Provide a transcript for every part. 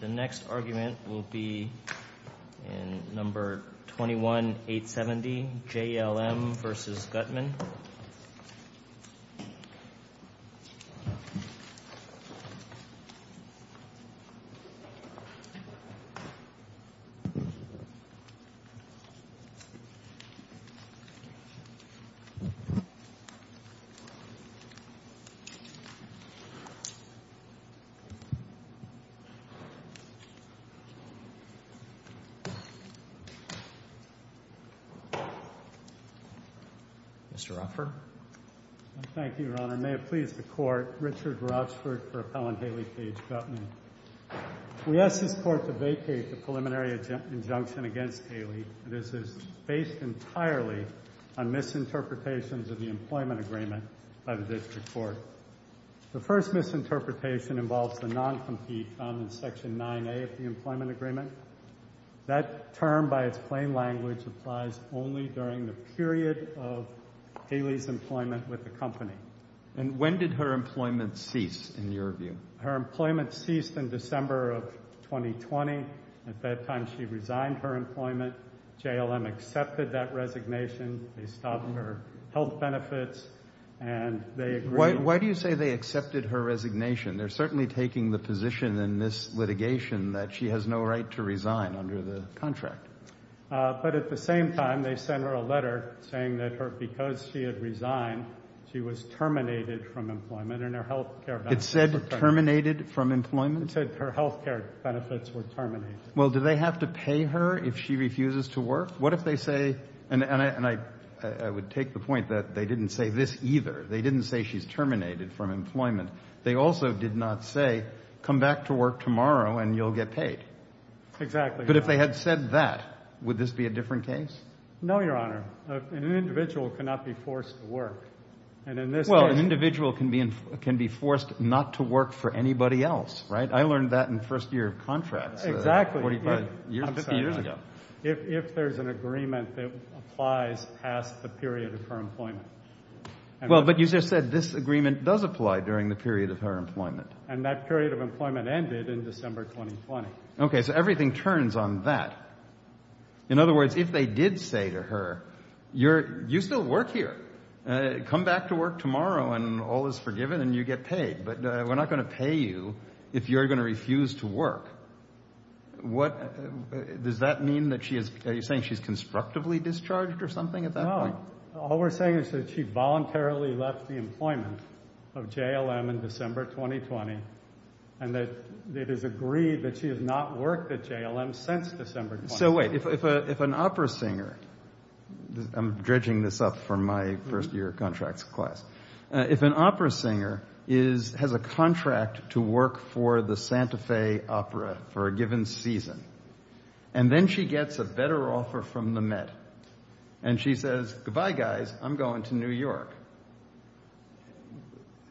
The next argument will be in No. 21-870, JLM v. Gutman. Mr. Offer Thank you, Your Honor. May it please the Court, Richard Rothschild for Appellant Haley v. Gutman. We ask this Court to vacate the preliminary injunction against Haley. This is based entirely on misinterpretations of the employment agreement by the District Court. The first misinterpretation involves the noncompete found in Section 9A of the employment agreement. That term, by its plain language, applies only during the period of Haley's employment with the company. And when did her employment cease, in your view? Her employment ceased in December of 2020. At that time, she resigned her employment. JLM accepted that resignation. They stopped her health benefits. Why do you say they accepted her resignation? They're certainly taking the position in this litigation that she has no right to resign under the contract. But at the same time, they sent her a letter saying that because she had resigned, she was terminated from employment and her health care benefits were terminated. It said terminated from employment? It said her health care benefits were terminated. Well, do they have to pay her if she refuses to work? And I would take the point that they didn't say this either. They didn't say she's terminated from employment. They also did not say, come back to work tomorrow and you'll get paid. Exactly. But if they had said that, would this be a different case? No, Your Honor. An individual cannot be forced to work. Well, an individual can be forced not to work for anybody else, right? I learned that in the first year of contracts. Exactly. If there's an agreement that applies past the period of her employment. Well, but you just said this agreement does apply during the period of her employment. And that period of employment ended in December 2020. Okay, so everything turns on that. In other words, if they did say to her, you still work here. Come back to work tomorrow and all is forgiven and you get paid. But we're not going to pay you if you're going to refuse to work. Does that mean that she is saying she's constructively discharged or something at that point? No, all we're saying is that she voluntarily left the employment of JLM in December 2020. And that it is agreed that she has not worked at JLM since December 2020. So wait, if an opera singer, I'm dredging this up from my first year of contracts class. If an opera singer has a contract to work for the Santa Fe Opera for a given season. And then she gets a better offer from the Met. And she says, goodbye guys, I'm going to New York.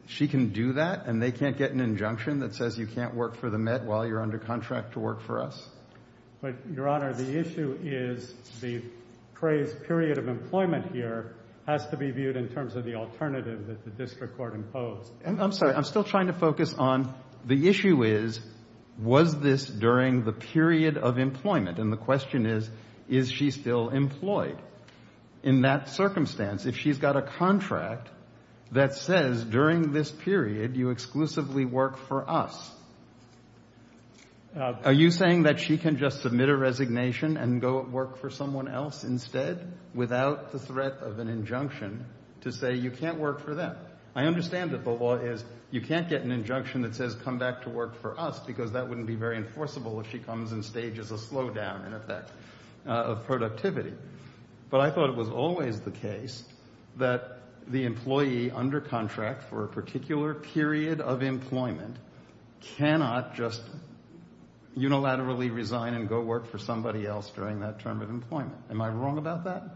She can do that and they can't get an injunction that says you can't work for the Met while you're under contract to work for us? But Your Honor, the issue is the period of employment here has to be viewed in terms of the alternative that the district court imposed. And I'm sorry, I'm still trying to focus on the issue is, was this during the period of employment? And the question is, is she still employed in that circumstance? If she's got a contract that says during this period, you exclusively work for us. Are you saying that she can just submit a resignation and go work for someone else instead without the threat of an injunction to say you can't work for them? I understand that the law is you can't get an injunction that says come back to work for us because that wouldn't be very enforceable if she comes in stages of slowdown and effect of productivity. But I thought it was always the case that the employee under contract for a particular period of employment cannot just unilaterally resign and go work for somebody else during that term of employment. Am I wrong about that?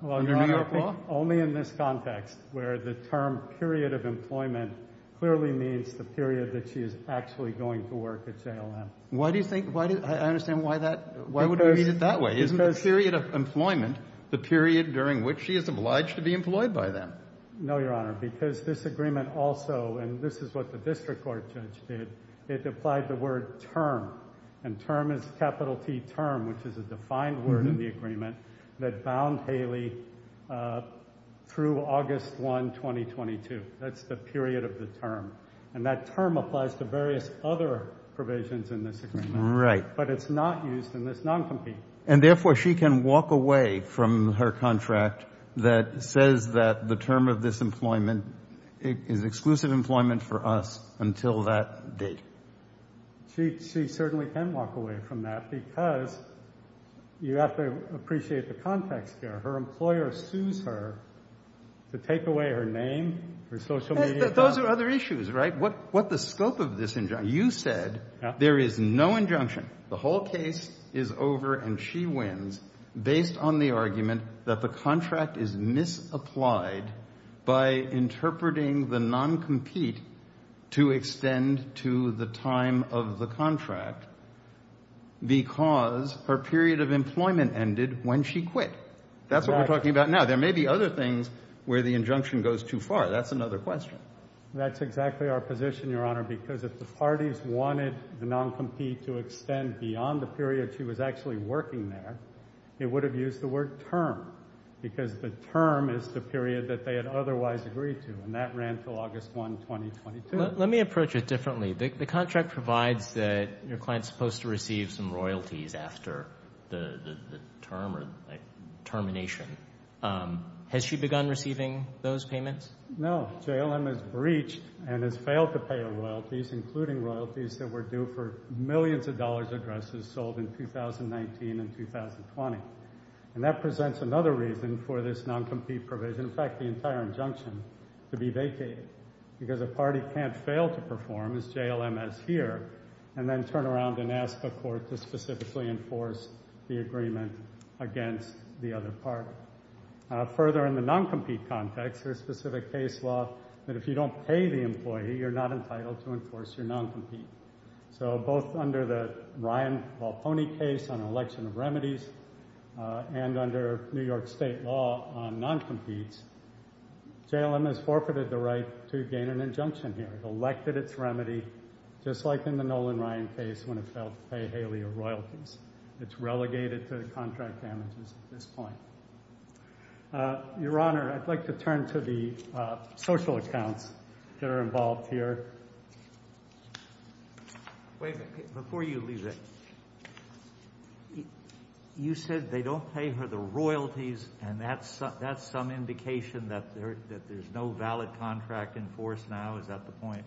Only in this context where the term period of employment clearly means the period that she is actually going to work at JLM. Why do you think, I understand why that, why would I read it that way? Isn't there a period of employment, the period during which she is obliged to be employed by them? No, Your Honor, because this agreement also, and this is what the district court judge did, it applied the word term. And term is capital T term, which is a defined word in the agreement that bound Haley through August 1, 2022. That's the period of the term. And that term applies to various other provisions in this agreement. Right. But it's not used in this noncompetent. And therefore she can walk away from her contract that says that the term of this employment is exclusive employment for us until that date. She certainly can walk away from that because you have to appreciate the context here. Her employer sues her to take away her name, her social media. Those are other issues, right? What the scope of this injunction? You said there is no injunction. The whole case is over and she wins based on the argument that the contract is misapplied by interpreting the noncompete to extend to the time of the contract because her period of employment ended when she quit. That's what we're talking about now. There may be other things where the injunction goes too far. That's another question. That's exactly our position, Your Honor, because if the parties wanted the noncompete to extend beyond the period she was actually working there, they would have used the word term because the term is the period that they had otherwise agreed to. And that ran until August 1, 2022. Let me approach it differently. The contract provides that your client is supposed to receive some royalties after the term or termination. Has she begun receiving those payments? No. JLM has breached and has failed to pay the royalties, including royalties that were due for millions of dollars addresses sold in 2019 and 2020. And that presents another reason for this noncompete provision, in fact, the entire injunction, to be vacated because a party can't fail to perform as JLM has here and then turn around and ask a court to specifically enforce the agreement against the other party. Further, in the noncompete context, there's specific case law that if you don't pay the employee, you're not entitled to enforce your noncompete. So both under the Ryan Walpone case on election remedies and under New York state law on noncompete, JLM has forfeited the right to gain an injunction here. It's elected its remedy, just like in the Nolan Ryan case when it failed to pay Haley royalties. It's relegated to the contract damages at this point. Your Honor, I'd like to turn to the social accounts that are involved here. Before you leave it, you said they don't pay her the royalties and that's some indication that there's no valid contract enforced now. Is that the point?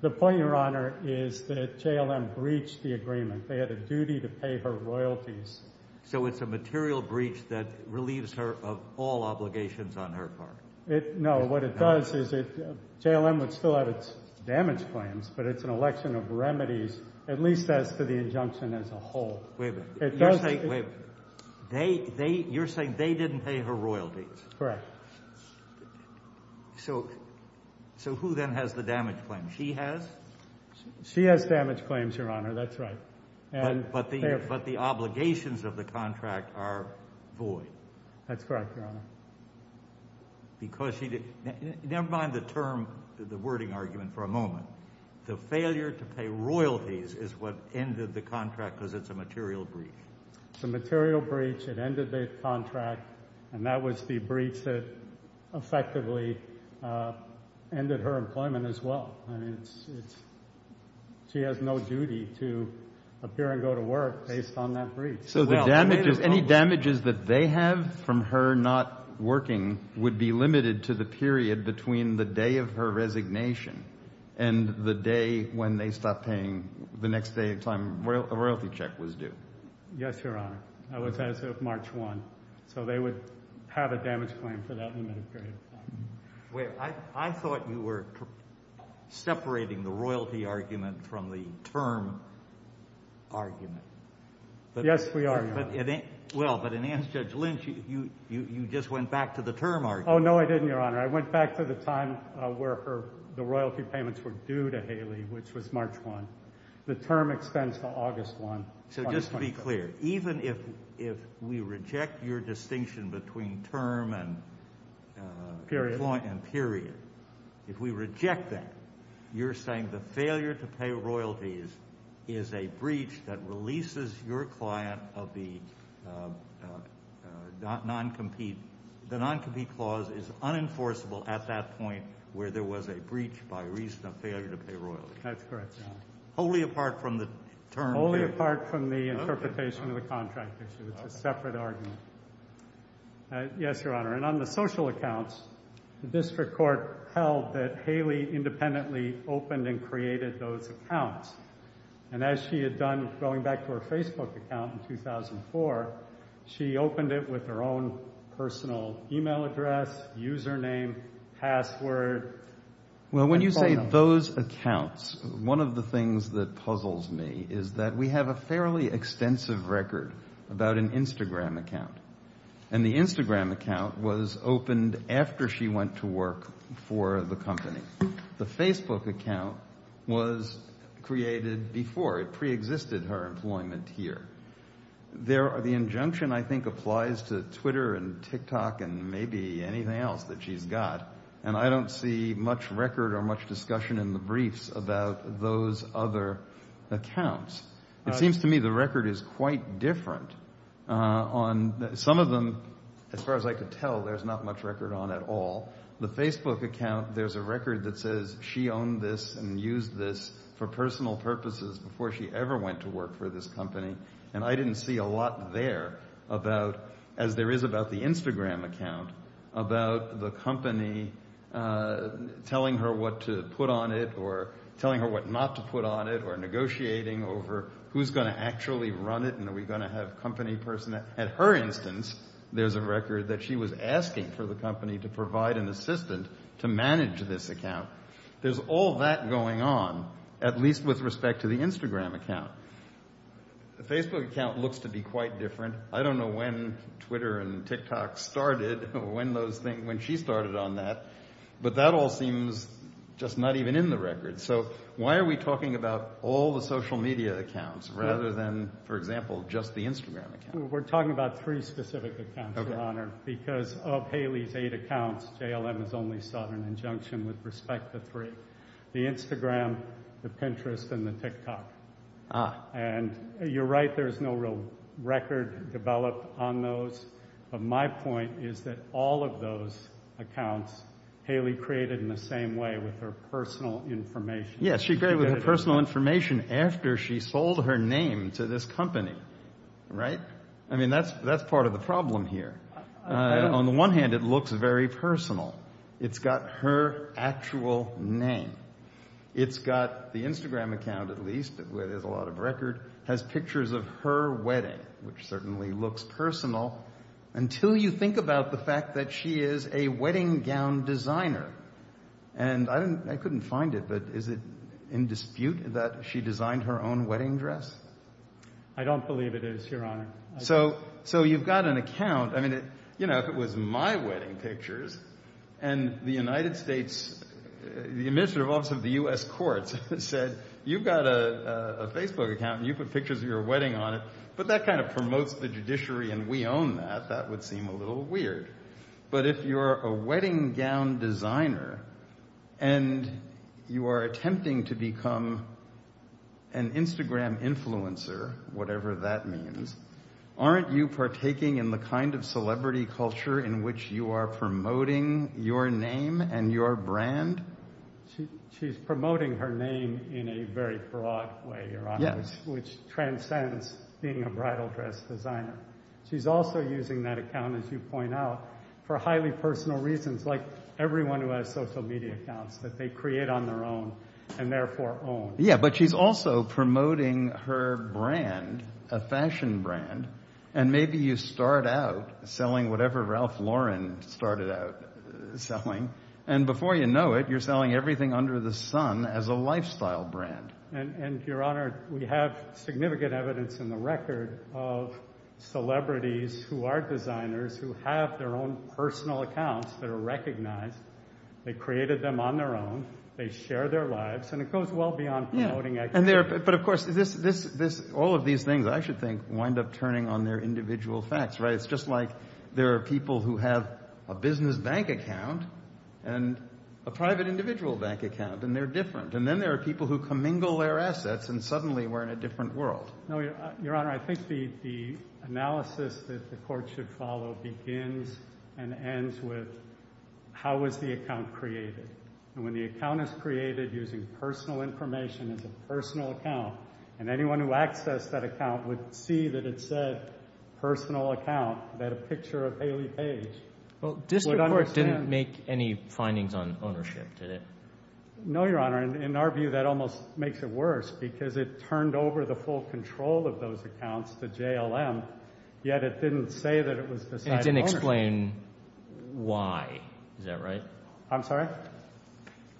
The point, Your Honor, is that JLM breached the agreement. They had a duty to pay her royalties. So it's a material breach that relieves her of all obligations on her part? No, what it does is that JLM would still have its damage claims, but it's an election of remedies, at least as to the injunction as a whole. Wait a minute. You're saying they didn't pay her royalties? Correct. So who then has the damage claims? She has? She has damage claims, Your Honor, that's right. But the obligations of the contract are void. That's correct, Your Honor. Never mind the term, the wording argument for a moment. The failure to pay royalties is what ended the contract because it's a material breach. It's a material breach that ended the contract, and that was the breach that effectively ended her employment as well. She has no duty to appear and go to work based on that breach. So any damages that they have from her not working would be limited to the period between the day of her resignation and the day when they stopped paying the next day of time the royalty check was due? Yes, Your Honor. That was as of March 1. So they would have a damage claim for that limited period. Wait, I thought you were separating the royalty argument from the term argument. Yes, we are, Your Honor. Well, but in Anstead's Lynch, you just went back to the term argument. Oh, no, I didn't, Your Honor. I went back to the time where the royalty payments were due to Haley, which was March 1. The term extends to August 1. So just to be clear, even if we reject your distinction between term and period, if we reject that, you're saying the failure to pay royalties is a breach that releases your client of the non-compete clause is unenforceable at that point where there was a breach by reason of failure to pay royalties? That's correct, Your Honor. Only apart from the term period. Only apart from the interpretation of the contract issue. It's a separate argument. Yes, Your Honor. And on the social accounts, the district court held that Haley independently opened and created those accounts. And as she had done going back to her Facebook account in 2004, she opened it with her own personal email address, username, password. Well, when you say those accounts, one of the things that puzzles me is that we have a fairly extensive record about an Instagram account. And the Instagram account was opened after she went to work for the company. The Facebook account was created before it preexisted her employment here. The injunction, I think, applies to Twitter and TikTok and maybe anything else that she's got. And I don't see much record or much discussion in the briefs about those other accounts. It seems to me the record is quite different. Some of them, as far as I can tell, there's not much record on at all. The Facebook account, there's a record that says she owned this and used this for personal purposes before she ever went to work for this company. And I didn't see a lot there about, as there is about the Instagram account, about the company telling her what to put on it or telling her what not to put on it or negotiating over who's going to actually run it and are we going to have company personnel. At her instance, there's a record that she was asking for the company to provide an assistant to manage this account. There's all that going on, at least with respect to the Instagram account. The Facebook account looks to be quite different. I don't know when Twitter and TikTok started, when those things, when she started on that. But that all seems just not even in the record. So why are we talking about all the social media accounts rather than, for example, just the Instagram account? We're talking about three specific accounts, Ronner, because of Haley's eight accounts, JLM has only sought an injunction with respect to three. The Instagram, the Pinterest, and the TikTok. And you're right, there's no real record developed on those. But my point is that all of those accounts, Haley created in the same way with her personal information. Yes, she created with her personal information after she sold her name to this company, right? I mean, that's part of the problem here. On the one hand, it looks very personal. It's got her actual name. It's got the Instagram account, at least, where there's a lot of record, has pictures of her wedding, which certainly looks personal. Until you think about the fact that she is a wedding gown designer. And I couldn't find it. But is it in dispute that she designed her own wedding dress? I don't believe it is, Your Honor. So you've got an account. I mean, you know, if it was my wedding pictures and the United States, the minister of the U.S. courts said, you've got a Facebook account and you put pictures of your wedding on it. But that kind of promotes the judiciary. And we own that. That would seem a little weird. But if you're a wedding gown designer and you are attempting to become an Instagram influencer, whatever that means, aren't you partaking in the kind of celebrity culture in which you are promoting your name and your brand? She's promoting her name in a very broad way, Your Honor. Yes. Which transcends being a bridal dress designer. She's also using that account, as you point out, for highly personal reasons like everyone who has social media accounts that they create on their own and therefore own. Yeah, but she's also promoting her brand, a fashion brand. And maybe you start out selling whatever Ralph Lauren started out selling. And before you know it, you're selling everything under the sun as a lifestyle brand. And Your Honor, we have significant evidence in the record of celebrities who are designers who have their own personal accounts that are recognized. They created them on their own. They share their lives. And it goes well beyond promoting. But of course, all of these things, I should think, wind up turning on their individual facts, right? It's just like there are people who have a business bank account and a private individual bank account, and they're different. And then there are people who commingle their assets and suddenly we're in a different world. No, Your Honor. I think the analysis that the court should follow begins and ends with how was the account created? And when the account is created using personal information as a personal account, and anyone who accessed that account would see that it said personal account, that a picture of Haley Page. Well, District Court didn't make any findings on ownership, did it? No, Your Honor. In our view, that almost makes it worse because it turned over the full control of those accounts to JLM, yet it didn't say that it was decided ownership. It didn't explain why. Is that right? I'm sorry?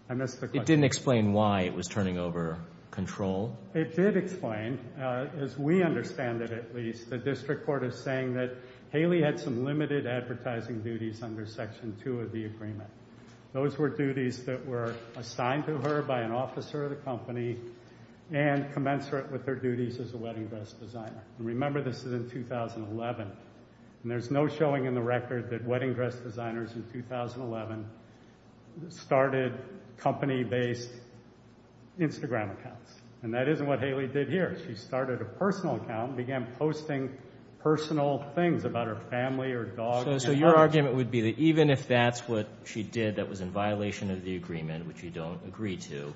I missed the question. It didn't explain why it was turning over control? It did explain, as we understand it at least, the District Court is saying that Haley had some limited advertising duties under Section 2 of the agreement. Those were duties that were assigned to her by an officer of the company and commensurate with their duties as a wedding dress designer. Remember, this is in 2011. And there's no showing in the record that wedding dress designers in 2011 started company-based Instagram accounts. And that isn't what Haley did here. She started a personal account and began posting personal things about her family, her dog. So your argument would be that even if that's what she did that was in violation of the agreement, which you don't agree to,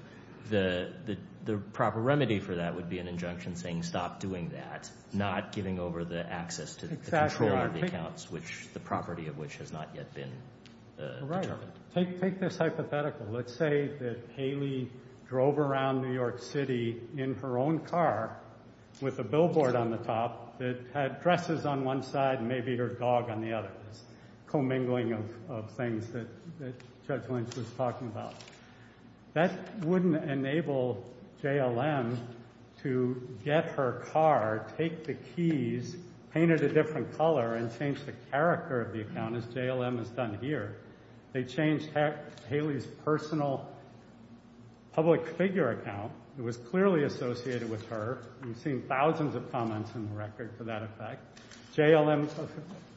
the proper remedy for that would be an injunction saying stop doing that, not giving over the access to the control of the accounts, the property of which has not yet been determined. Take this hypothetical. Let's say that Haley drove around New York City in her own car with a billboard on the top that had dresses on one side and maybe her dog on the other, commingling of things that Judge Lynch was talking about. That wouldn't enable JLM to get her car, take the keys, paint it a different color, and change the character of the account, as JLM has done here. They changed Haley's personal public figure account. It was clearly associated with her. We've seen thousands of comments in the record for that effect. JLM's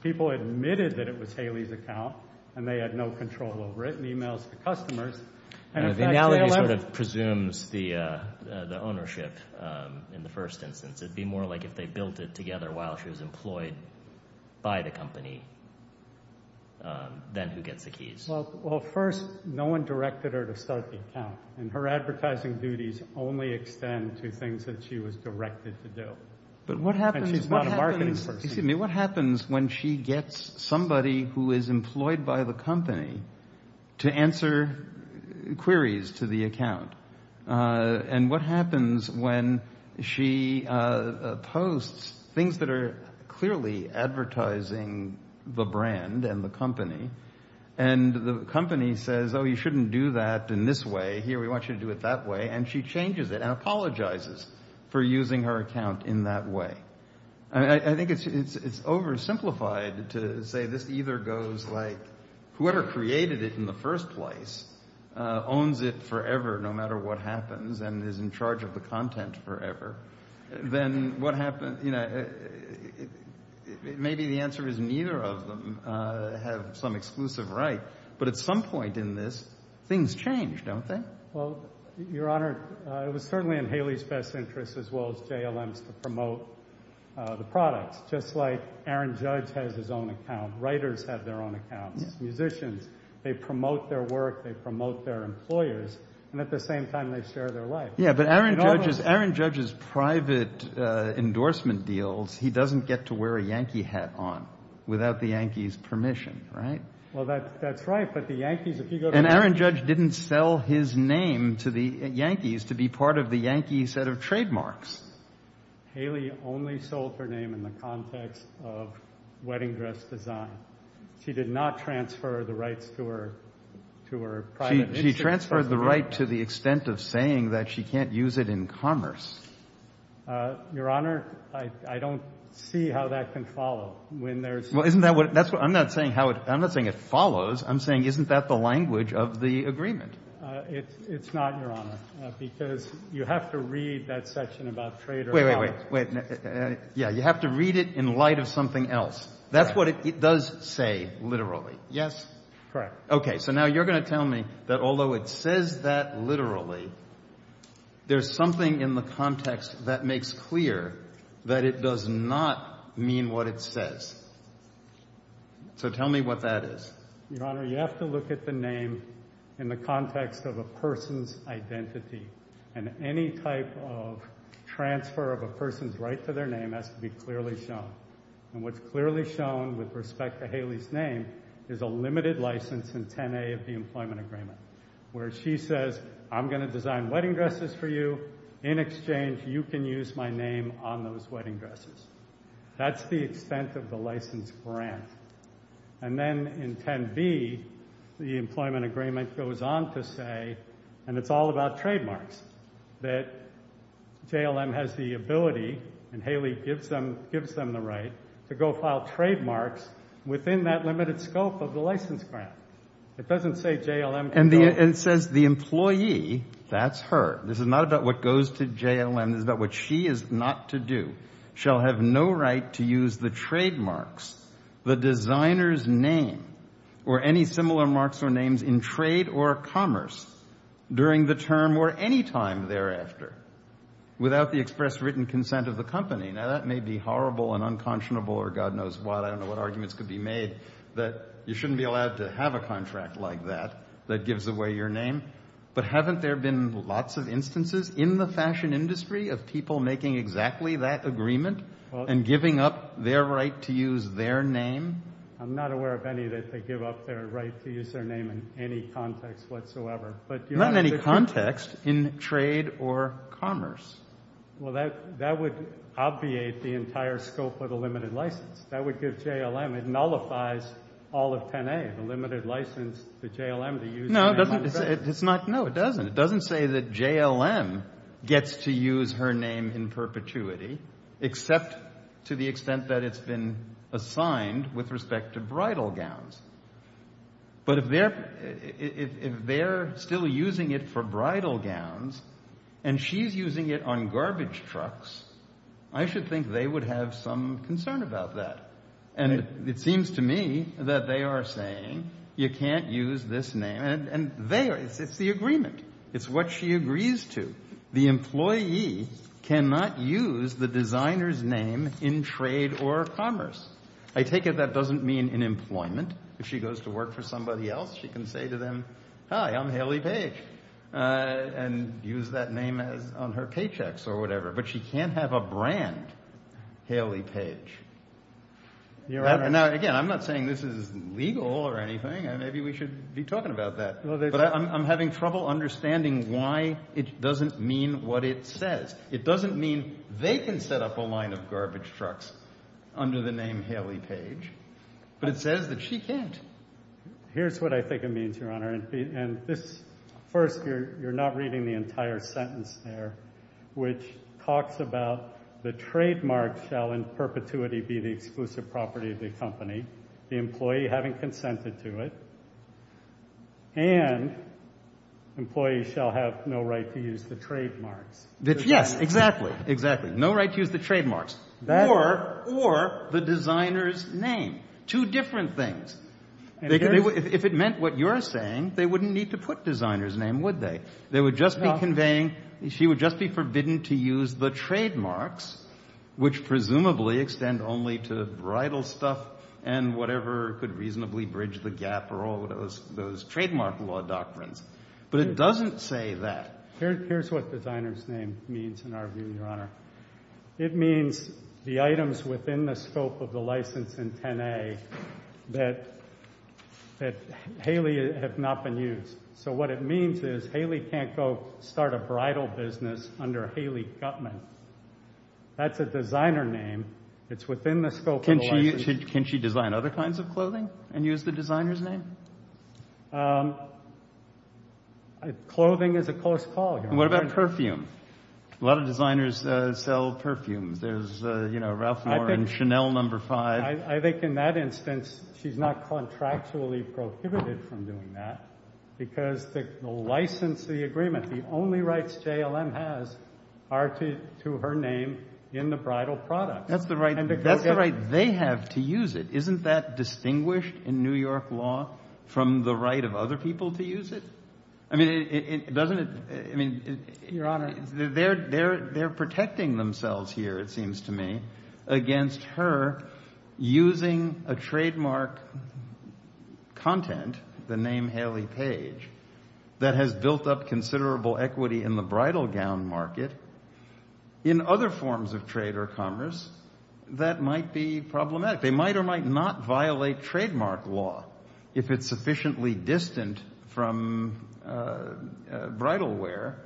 people admitted that it was Haley's account and they had no control over it and emailed the customers. The analogy sort of presumes the ownership in the first instance. It would be more like if they built it together while she was employed by the company than who gets the keys. Well, first, no one directed her to start the account, and her advertising duties only extend to things that she was directed to do. But what happens when she gets somebody who is employed by the company to answer queries to the account? And what happens when she posts things that are clearly advertising the brand and the company, and the company says, oh, you shouldn't do that in this way. Here, we want you to do it that way. And she changes it and apologizes for using her account in that way. I think it's oversimplified to say this either goes like whoever created it in the first place owns it forever, no matter what happens, and is in charge of the content forever. Then what happens, maybe the answer is neither of them have some exclusive right. But at some point in this, things change, don't they? Well, Your Honor, it was certainly in Haley's best interest, as well as JLM's, to promote the product, just like Aaron Judge has his own account. Writers have their own account. Musicians, they promote their work. They promote their employers. And at the same time, they share their life. Yeah, but Aaron Judge's private endorsement deals, he doesn't get to wear a Yankee hat on without the Yankees' permission, right? Well, that's right. And Aaron Judge didn't sell his name to the Yankees to be part of the Yankee set of trademarks. Haley only sold her name in the context of wedding dress design. She did not transfer the rights to her private interest. She transferred the right to the extent of saying that she can't use it in commerce. Your Honor, I don't see how that can follow. I'm not saying it follows. I'm saying, isn't that the language of the agreement? It's not, Your Honor, because you have to read that section about trade. Wait, wait, wait. Yeah, you have to read it in light of something else. That's what it does say, literally. Yes, correct. Okay, so now you're going to tell me that although it says that literally, there's something in the context that makes clear that it does not mean what it says. So tell me what that is. Your Honor, you have to look at the name in the context of a person's identity. And any type of transfer of a person's right to their name has to be clearly shown. And what's clearly shown with respect to Haley's name is a limited license in 10A of the Employment Agreement, where she says, I'm going to design wedding dresses for you. In exchange, you can use my name on those wedding dresses. That's the extent of the license for Anne. And then in 10B, the Employment Agreement goes on to say, and it's all about trademarks, that JLM has the ability, and Haley gives them the right, to go file trademarks within that limited scope of the license grant. It doesn't say JLM does not. And says the employee, that's her, this is not about what goes to JLM, this is about what she is not to do, shall have no right to use the trademarks, the designer's name, or any similar marks or names in trade or commerce, during the term or any time thereafter, without the express written consent of the company. Now that may be horrible and unconscionable, or God knows what, I don't know what arguments could be made, that you shouldn't be allowed to have a contract like that, that gives away your name. But haven't there been lots of instances in the fashion industry of people making exactly that agreement, and giving up their right to use their name? I'm not aware of any that they give up their right to use their name in any context whatsoever. Not in any context, in trade or commerce. Well that would obviate the entire scope of the limited license. That would give JLM, it nullifies all of 10A, the limited license for JLM to use. No, it doesn't. It doesn't say that JLM gets to use her name in perpetuity, except to the extent that it's been assigned with respect to bridal gowns. But if they're still using it for bridal gowns, and she's using it on garbage trucks, I should think they would have some concern about that. And it seems to me that they are saying, you can't use this name. And it's the agreement. It's what she agrees to. The employee cannot use the designer's name in trade or commerce. I take it that doesn't mean in employment. If she goes to work for somebody else, she can say to them, hi, I'm Haley Page, and use that name on her paychecks or whatever. But she can't have a brand, Haley Page. Now, again, I'm not saying this is legal or anything. Maybe we should be talking about that. But I'm having trouble understanding why it doesn't mean what it says. It doesn't mean they can set up a line of garbage trucks under the name Haley Page. It says that she can't. Here's what I think it means, Your Honor. First, you're not reading the entire sentence there, which talks about the trademark shall in perpetuity be the exclusive property of the company, the employee having consented to it, and employees shall have no right to use the trademark. Yes, exactly. Exactly. No right to use the trademarks. Or the designer's name. Two different things. If it meant what you're saying, they wouldn't need to put designer's name, would they? They would just be conveying, she would just be forbidden to use the trademarks, which presumably extend only to bridal stuff and whatever could reasonably bridge the gap or all of those trademark law doctrines. But it doesn't say that. It means the items within the scope of the license in 10A that Haley has not been used. So what it means is Haley can't go start a bridal business under Haley Gutman. That's a designer name. It's within the scope of the license. Can she design other kinds of clothing and use the designer's name? What about perfume? A lot of designers sell perfume. There's Ralph Lauren, Chanel No. 5. I think in that instance, she's not contractually prohibited from doing that because the license agreement, the only rights JLM has are to her name in the bridal product. That's the right they have to use it. Isn't that distinguished in New York law from the right of other people to use it? Your Honor, they're protecting themselves here, it seems to me, against her using a trademark content, the name Haley Page, that has built up considerable equity in the bridal gown market in other forms of trade or commerce that might be problematic. They might or might not violate trademark law if it's sufficiently distant from bridal wear,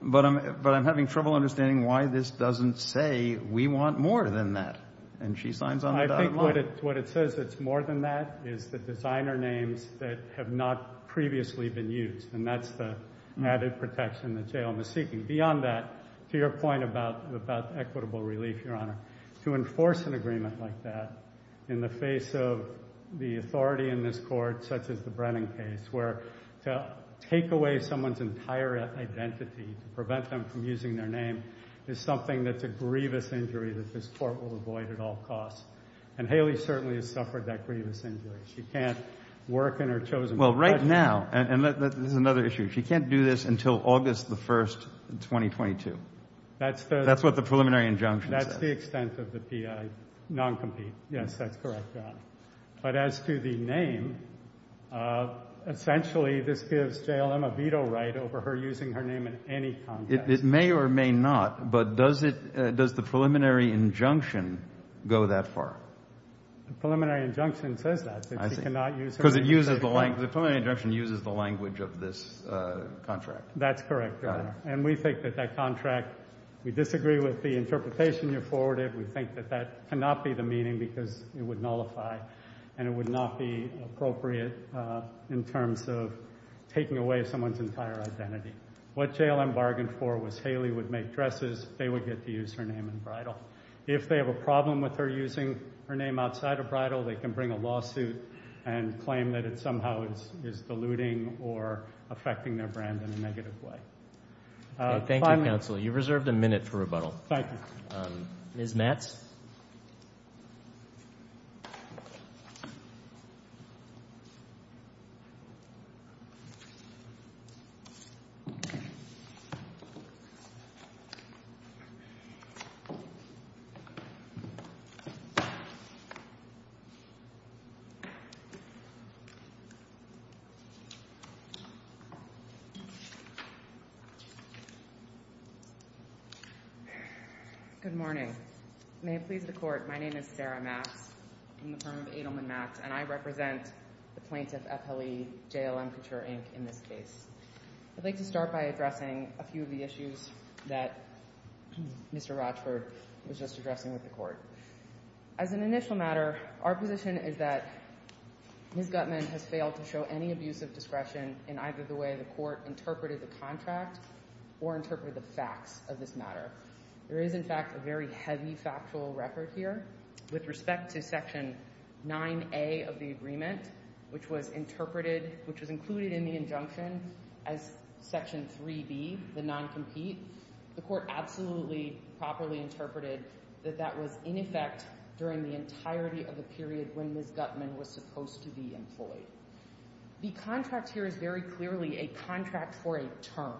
but I'm having trouble understanding why this doesn't say we want more than that. What it says it's more than that is the designer names that have not previously been used, and that's the added protection that JLM is seeking. Beyond that, to your point about equitable relief, Your Honor, to enforce an agreement like that in the face of the authority in this court, such as the Brennan case, where to take away someone's entire identity, to prevent them from using their name, is something that's a grievous injury that this court will avoid at all costs, and Haley certainly has suffered that grievous injury. She can't work in her chosen position. Well, right now, and this is another issue, she can't do this until August 1, 2022. That's what the preliminary injunction says. That's the expense of the P.I., non-compete. Yes, that's correct, Your Honor. But as to the name, essentially this gives JLM a veto right over her using her name in any contract. It may or may not, but does the preliminary injunction go that far? The preliminary injunction says that, but you cannot use her name. So the preliminary injunction uses the language of this contract. We disagree with the interpretation you forwarded. We think that that cannot be the meaning because it would nullify and it would not be appropriate in terms of taking away someone's entire identity. What JLM bargained for was Haley would make dresses, they would get to use her name in bridal. If they have a problem with her using her name outside of bridal, they can bring a lawsuit and claim that it somehow is diluting or affecting their brand in a negative way. Thank you, counsel. You reserved a minute for rebuttal. Ms. Matz? Good morning. May it please the Court, my name is Sarah Matz. I'm the firm of Adelman Matz, and I represent the plaintiff, FLE, JLM Couture, Inc., in this case. I'd like to start by addressing a few of the issues that Mr. Rochford was just addressing with the Court. As an initial matter, our position is that Ms. Guttman has failed to show any abusive discretion in either the way the Court interpreted the contract or interpreted the facts of this matter. There is, in fact, a very heavy factual record here. With respect to Section 9A of the agreement, which was included in the injunction as Section 3B, the noncompete, the Court absolutely properly interpreted that that was, in effect, during the entirety of the period when Ms. Guttman was supposed to be employed. The contract here is very clearly a contract for a term.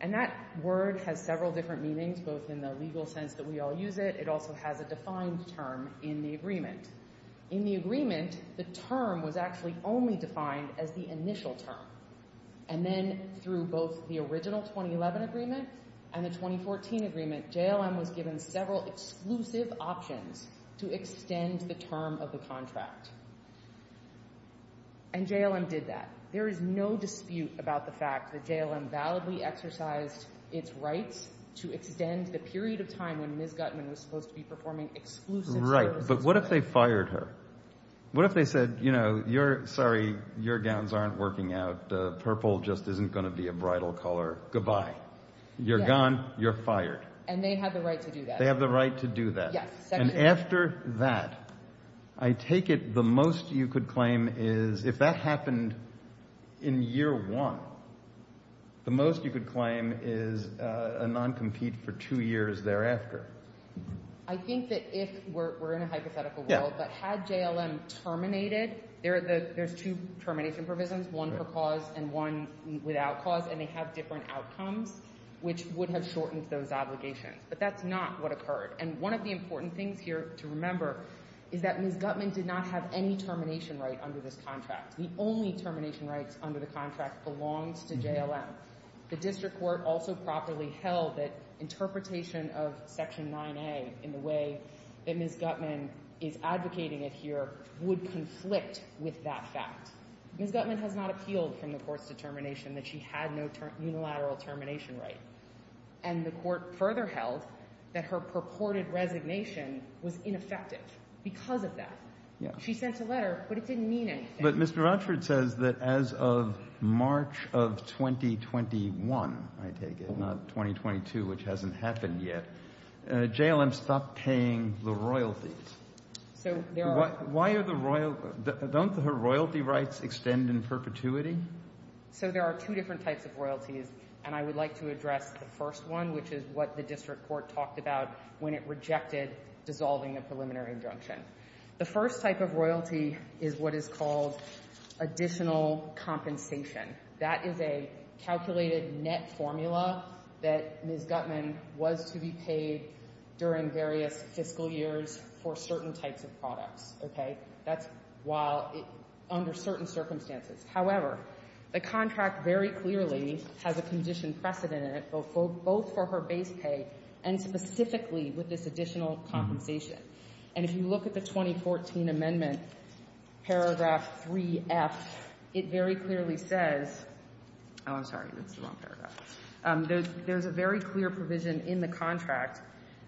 And that word has several different meanings, both in the legal sense that we all use it. It also has a defined term in the agreement. In the agreement, the term was actually only defined as the initial term. And then, through both the original 2011 agreement and the 2014 agreement, JLM was given several exclusive options to extend the term of the contract. And JLM did that. There is no dispute about the fact that JLM validly exercised its right to extend the period of time when Ms. Guttman was supposed to be performing exclusive services. Right, but what if they fired her? What if they said, you know, you're sorry, your gowns aren't working out, the purple just isn't going to be a bridal color, goodbye. You're gone, you're fired. And they have the right to do that. They have the right to do that. And after that, I take it the most you could claim is, if that happened in year one, the most you could claim is a non-compete for two years thereafter. I think that if we're in a hypothetical world, that had JLM terminated, there's two termination provisions, one for cause and one without cause, and they have different outcomes, which would have shortened those obligations. But that's not what occurred. And one of the important things here to remember is that Ms. Guttman did not have any termination right under this contract. The only termination right under the contract belongs to JLM. The district court also properly held that interpretation of Section 9A in the way that Ms. Guttman is advocating it here would conflict with that fact. Ms. Guttman has not appealed from the court's determination that she had no unilateral termination right. And the court further held that her purported resignation was ineffective because of that. She sent the letter, but it didn't mean anything. But Mr. Rutford says that as of March of 2021, I take it, not 2022, which hasn't happened yet, JLM stopped paying the royalties. Why are the royalties – don't her royalty rights extend in perpetuity? So there are two different types of royalties, and I would like to address the first one, which is what the district court talked about when it rejected dissolving a preliminary injunction. The first type of royalty is what is called additional compensation. That is a calculated net formula that Ms. Guttman was to be paid during various fiscal years for certain types of products. That's while – under certain circumstances. However, the contract very clearly has a condition precedent in it, both for her base pay and specifically with this additional compensation. And if you look at the 2014 amendment, paragraph 3F, it very clearly says – there's a very clear provision in the contract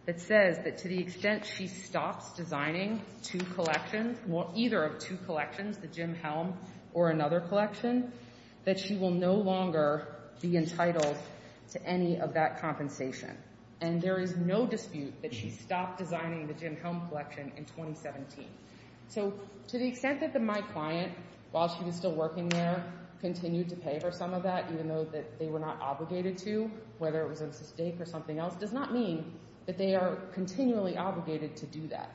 that says that to the extent she stops designing two collections – either of two collections, the Jim Helm or another collection, that she will no longer be entitled to any of that compensation. And there is no dispute that she stopped designing the Jim Helm collection in 2017. So to the extent that my client, while she was still working there, continued to pay for some of that, even though they were not obligated to, whether it was a mistake or something else, does not mean that they are continually obligated to do that.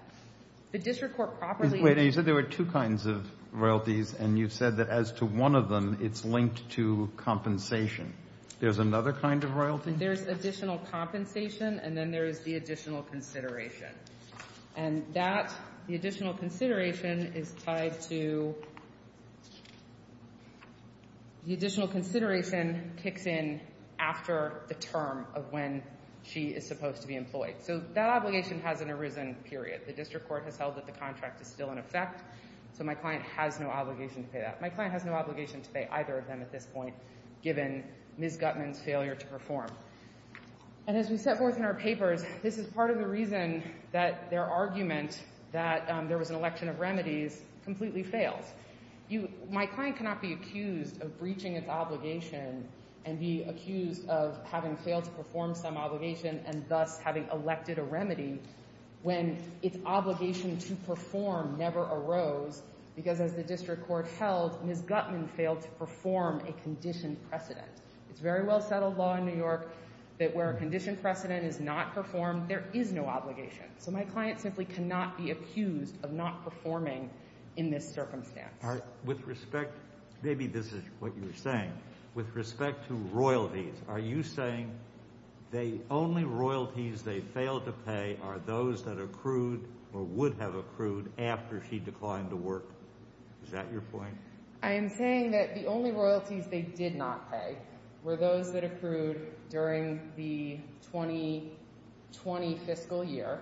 The district court properly – Wait a minute. You said there were two kinds of royalties, and you said that as to one of them, it's linked to compensation. There's another kind of royalty? There's additional compensation, and then there's the additional consideration. And that – the additional consideration is tied to – the additional consideration kicks in after the term of when she is supposed to be employed. So that obligation has an arisen period. The district court has held that the contract is still in effect, so my client has no obligation to say that. My client has no obligation to say either of them at this point, given Ms. Gutman's failure to perform. And as we set forth in our paper, this is part of the reason that their argument that there was an election of remedies completely failed. My client cannot be accused of breaching its obligation and be accused of having failed to perform some obligation and thus having elected a remedy when its obligation to perform never arose, because as the district court held, Ms. Gutman failed to perform a conditioned precedent. It's very well-settled law in New York that where a conditioned precedent is not performed, there is no obligation. So my client simply cannot be accused of not performing in this circumstance. All right. With respect, maybe this is what you're saying. With respect to royalties, are you saying the only royalties they failed to pay are those that accrued or would have accrued after she declined to work? Is that your point? I am saying that the only royalties they did not pay were those that accrued during the 2020 fiscal year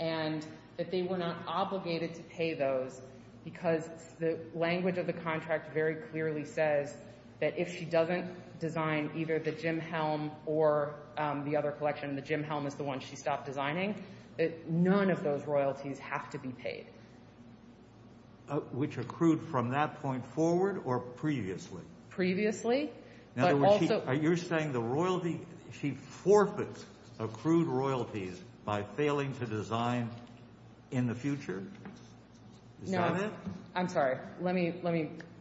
and that they were not obligated to pay those because the language of the contract very clearly says that if she doesn't design either the Jim Helm or the other collection, the Jim Helm is the one she stopped designing, that none of those royalties have to be paid. Which accrued from that point forward or previously? Previously. Are you saying she forfeits accrued royalties by failing to design in the future? No. I'm sorry. Let me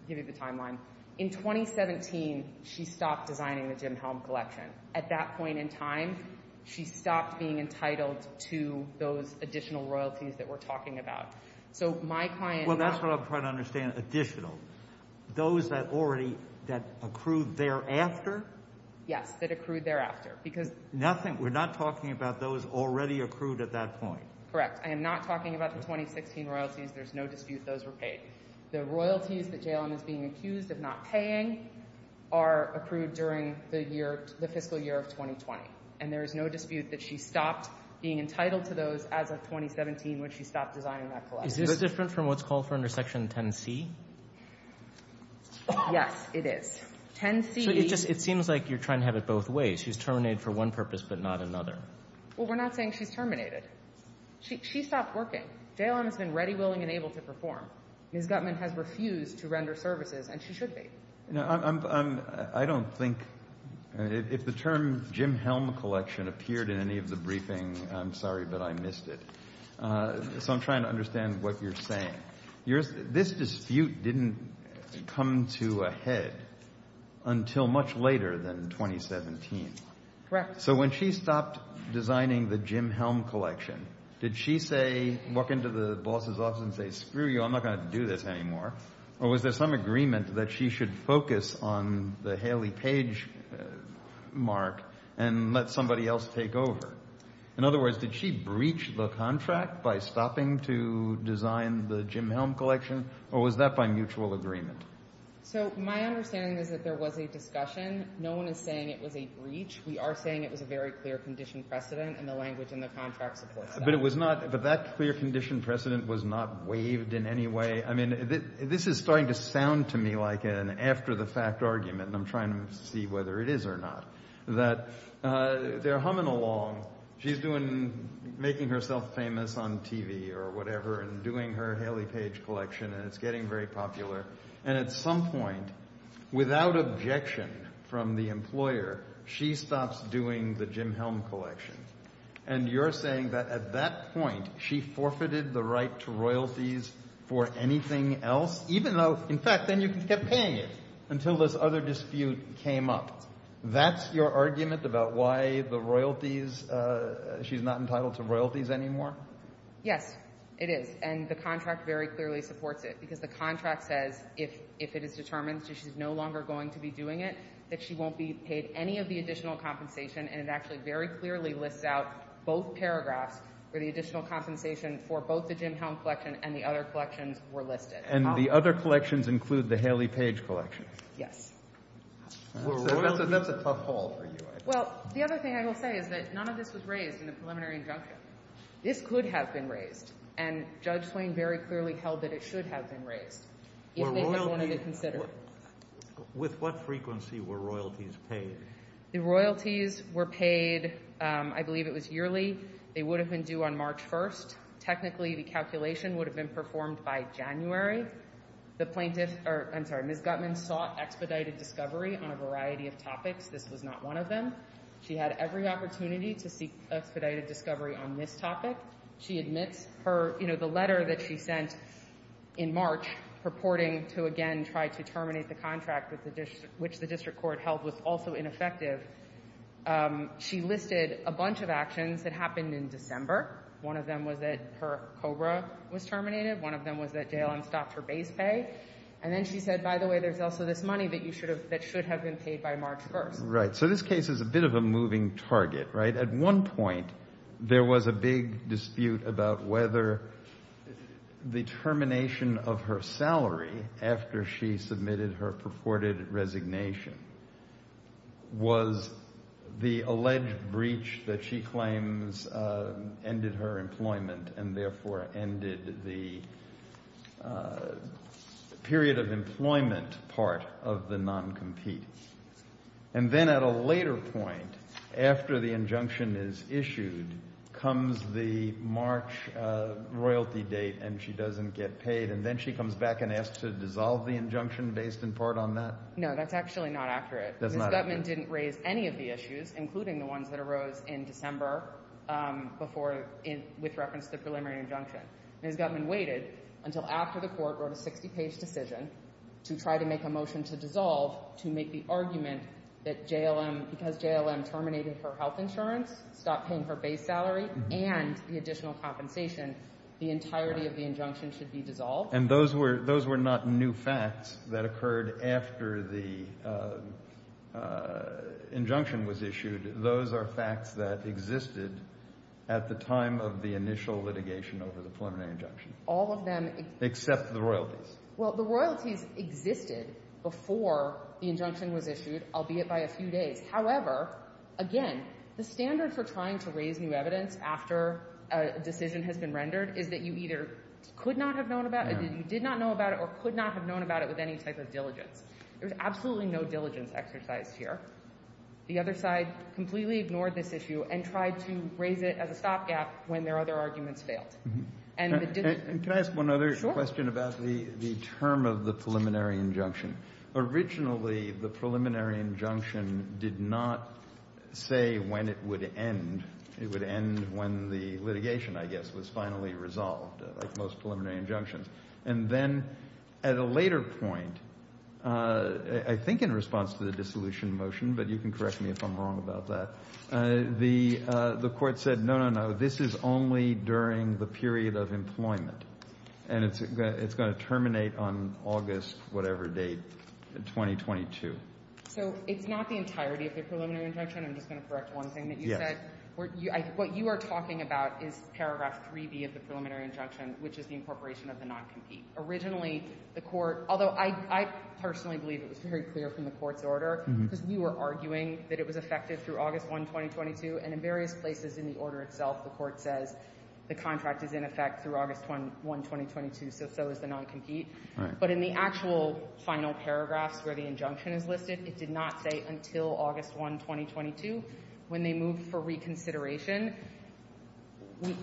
give you the timeline. In 2017, she stopped designing the Jim Helm collection. At that point in time, she stopped being entitled to those additional royalties that we're talking about. Well, that's what I'm trying to understand, additional. Those that accrued thereafter? Yes, that accrued thereafter. We're not talking about those already accrued at that point. Correct. I am not talking about the 2016 royalties. There's no dispute those were paid. The royalties that Jaylen is being accused of not paying are accrued during the fiscal year of 2020, and there is no dispute that she stopped being entitled to those as of 2017 when she stopped designing that collection. Is it different from what's called for under Section 10C? Yes, it is. It seems like you're trying to have it both ways. She's terminated for one purpose but not another. Well, we're not saying she terminated. She stopped working. Jaylen has been ready, willing, and able to perform. Ms. Gutman has refused to render services, and she should be. I don't think if the term Jim Helm collection appeared in any of the briefings, I'm sorry, but I missed it. So I'm trying to understand what you're saying. This dispute didn't come to a head until much later than 2017. Correct. So when she stopped designing the Jim Helm collection, did she walk into the boss's office and say, screw you, I'm not going to do this anymore, or was there some agreement that she should focus on the Haley Page mark and let somebody else take over? In other words, did she breach the contract by stopping to design the Jim Helm collection, or was that by mutual agreement? So my understanding is that there was a discussion. No one is saying it was a breach. We are saying it was a very clear condition precedent in the language in the contract report. But that clear condition precedent was not waived in any way. I mean, this is starting to sound to me like an after-the-fact argument, and I'm trying to see whether it is or not, that they're humming along. She's making herself famous on TV or whatever and doing her Haley Page collection, and it's getting very popular. And at some point, without objection from the employer, she stops doing the Jim Helm collection. And you're saying that at that point, she forfeited the right to royalties for anything else, even though, in fact, then you can keep paying it until this other dispute came up. That's your argument about why the royalties, she's not entitled to royalties anymore? Yes, it is. And the contract very clearly supports it because the contract says, if it is determined that she's no longer going to be doing it, that she won't be paid any of the additional compensation. And it actually very clearly lists out both paragraphs for the additional compensation for both the Jim Helm collection and the other collections were listed. And the other collections include the Haley Page collection? Yes. So that's a tough call for you. Well, the other thing I will say is that none of this was raised in the preliminary injunction. It could have been raised. And Judge Klain very clearly held that it should have been raised. With what frequency were royalties paid? The royalties were paid, I believe it was yearly. They would have been due on March 1st. Technically, the calculation would have been performed by January. Ms. Gutman sought expedited discovery on a variety of topics. This was not one of them. She had every opportunity to seek expedited discovery on this topic. She admits her, you know, the letter that she sent in March purporting to, again, try to terminate the contract which the district court held was also ineffective. She listed a bunch of actions that happened in December. One of them was that her COBRA was terminated. One of them was that Dale unstocked her base pay. And then she said, by the way, there's also this money that should have been paid by March 1st. Right. So this case is a bit of a moving target, right? At one point, there was a big dispute about whether the termination of her salary after she submitted her purported resignation was the alleged breach that she claims ended her employment and therefore ended the period of employment part of the non-compete. And then at a later point, after the injunction is issued, comes the March royalty date and she doesn't get paid. And then she comes back and asks to dissolve the injunction based in part on that? No, that's actually not accurate. Ms. Gutman didn't raise any of the issues, including the ones that arose in December, which referenced the preliminary injunction. Ms. Gutman waited until after the court wrote a 60-page decision to try to make a motion to dissolve to make the argument that because JLM terminated her health insurance, stopped paying her base salary, and the additional compensation, the entirety of the injunction should be dissolved. And those were not new facts that occurred after the injunction was issued. Those are facts that existed at the time of the initial litigation over the preliminary injunction. All of them? Except the royalties. Well, the royalties existed before the injunction was issued, albeit by a few days. However, again, the standard for trying to raise new evidence after a decision has been rendered is that you either could not have known about it, you did not know about it, or could not have known about it with any type of diligence. There's absolutely no diligence exercise here. The other side completely ignored this issue and tried to raise it as a stopgap when their other arguments failed. Can I ask one other question about the term of the preliminary injunction? Originally, the preliminary injunction did not say when it would end. It would end when the litigation, I guess, was finally resolved, like most preliminary injunctions. And then at a later point, I think in response to the dissolution motion, but you can correct me if I'm wrong about that, the court said, no, no, no, this is only during the period of employment, and it's going to terminate on August whatever date, 2022. So it's not the entirety of the preliminary injunction? I'm just going to correct one thing that you said. What you are talking about is paragraph 3B of the preliminary injunction, which is the incorporation of the non-compete. Originally, the court, although I personally believe it was very clear from the court's order, because we were arguing that it was effective through August 1, 2022, and in various places in the order itself, the court said the contract is in effect through August 1, 2022, so so is the non-compete. But in the actual final paragraph where the injunction is listed, it did not say until August 1, 2022 when they moved for reconsideration.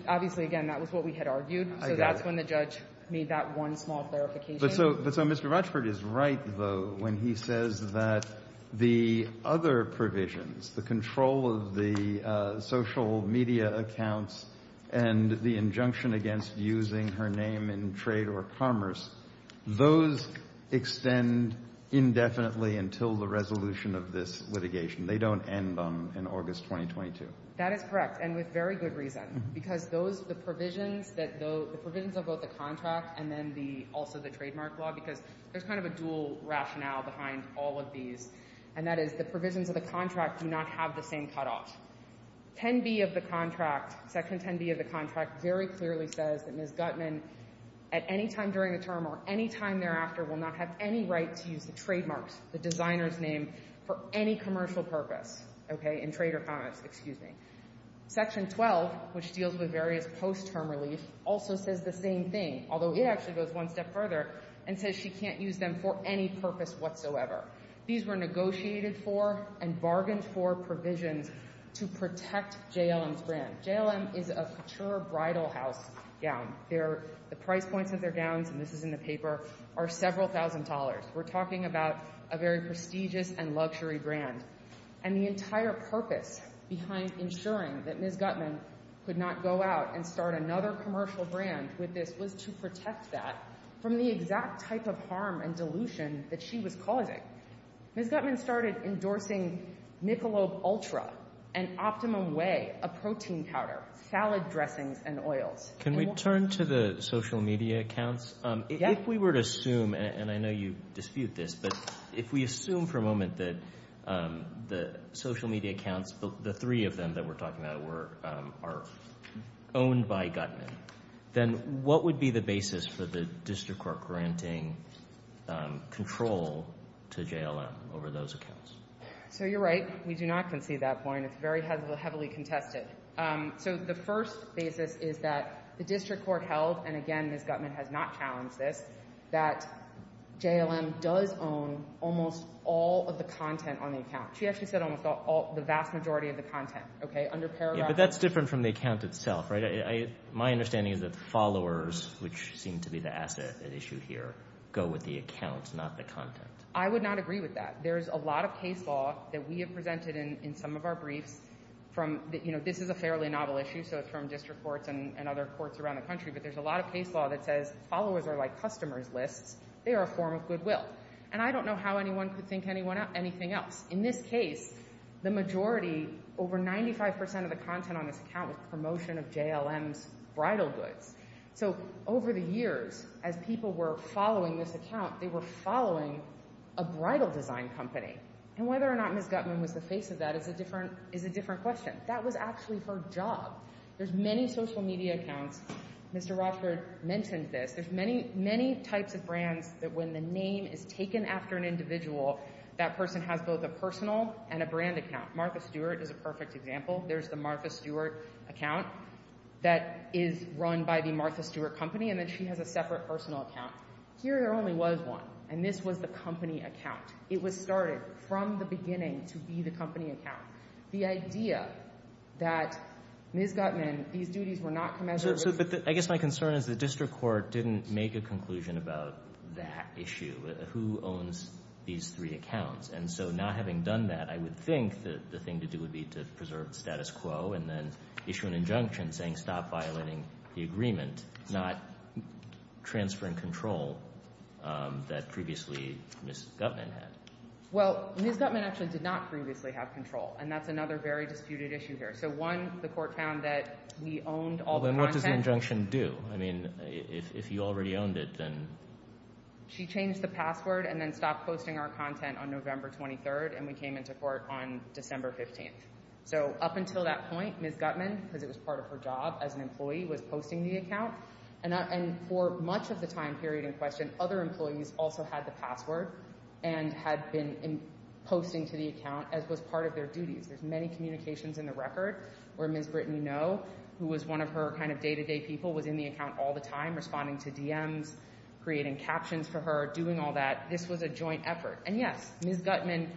Obviously, again, that was what we had argued, so that's when the judge made that one small clarification. But so Mr. Rochford is right, though, when he says that the other provisions, the control of the social media accounts and the injunction against using her name in trade or commerce, those extend indefinitely until the resolution of this litigation. They don't end in August 2022. That is correct, and with very good reason, because the provisions of both the contract and then also the trademark law, because there's kind of a dual rationale behind all of these, and that is the provisions of the contract do not have the same cutoff. Section 10B of the contract very clearly says that Ms. Guttman, at any time during a term or any time thereafter, will not have any right to use the trademark, the designer's name, for any commercial purpose, okay, in trade or commerce, excuse me. Section 12, which deals with various post-term release, also says the same thing, although it actually goes one step further and says she can't use them for any purpose whatsoever. These were negotiated for and bargained for provisions to protect JLM's brand. JLM is a mature bridal house gown. The price points of their gowns, and this is in the paper, are several thousand dollars. We're talking about a very prestigious and luxury brand. And the entire purpose behind ensuring that Ms. Guttman could not go out and start another commercial brand with this was to protect that from the exact type of harm and dilution that she was causing. Ms. Guttman started endorsing Nickelode Ultra, an optimum way of protein powder, salad dressings, and oils. Can we turn to the social media accounts? Yes. If we were to assume, and I know you dispute this, but if we assume for a moment that the social media accounts, the three of them that we're talking about, are owned by Guttman, then what would be the basis for the district court granting control to JLM over those accounts? So you're right. We do not concede that point. It's very heavily contested. So the first basis is that the district court held, and again, Ms. Guttman has not challenged this, that JLM does own almost all of the content on the account. She actually said almost the vast majority of the content. But that's different from the account itself, right? My understanding is that followers, which seem to be the asset at issue here, go with the accounts, not the content. I would not agree with that. There's a lot of case law that we have presented in some of our briefs. This is a fairly novel issue, so it's from district courts and other courts around the country, but there's a lot of case law that says followers are like customers lists. They are a form of goodwill. And I don't know how anyone could think anything else. In this case, the majority, over 95% of the content on this account is promotion of JLM's bridal goods. So over the years, as people were following this account, they were following a bridal design company. And whether or not Ms. Guttman was the face of that is a different question. That was actually her job. There's many social media accounts. Mr. Rochford mentioned this. There's many types of brands that when the name is taken after an individual, that person has both a personal and a brand account. Martha Stewart is a perfect example. There's the Martha Stewart account that is run by the Martha Stewart Company, and then she has a separate personal account. Here there only was one, and this was the company account. It was started from the beginning to be the company account. The idea that Ms. Guttman, these duties were not commensurate. So I guess my concern is the district court didn't make a conclusion about that issue, who owns these three accounts. And so not having done that, I would think that the thing to do would be to preserve the status quo and then issue an injunction saying stop violating the agreement, not transferring control that previously Ms. Guttman had. Well, Ms. Guttman actually did not previously have control, and that's another very disputed issue here. So one, the court found that we owned all the content. Well, then what does the injunction do? I mean, if you already owned it, then? She changed the password and then stopped posting our content on November 23rd, and we came into court on December 15th. So up until that point, Ms. Guttman, because it was part of her job as an employee, was posting the account. And for much of the time period in question, other employees also had the password and had been posting to the account as was part of their duties. There's many communications in the record where Ms. Britton Ngo, who was one of her kind of day-to-day people, was in the account all the time, responding to DMs, creating captions for her, doing all that. This was a joint effort. And yes, Ms. Guttman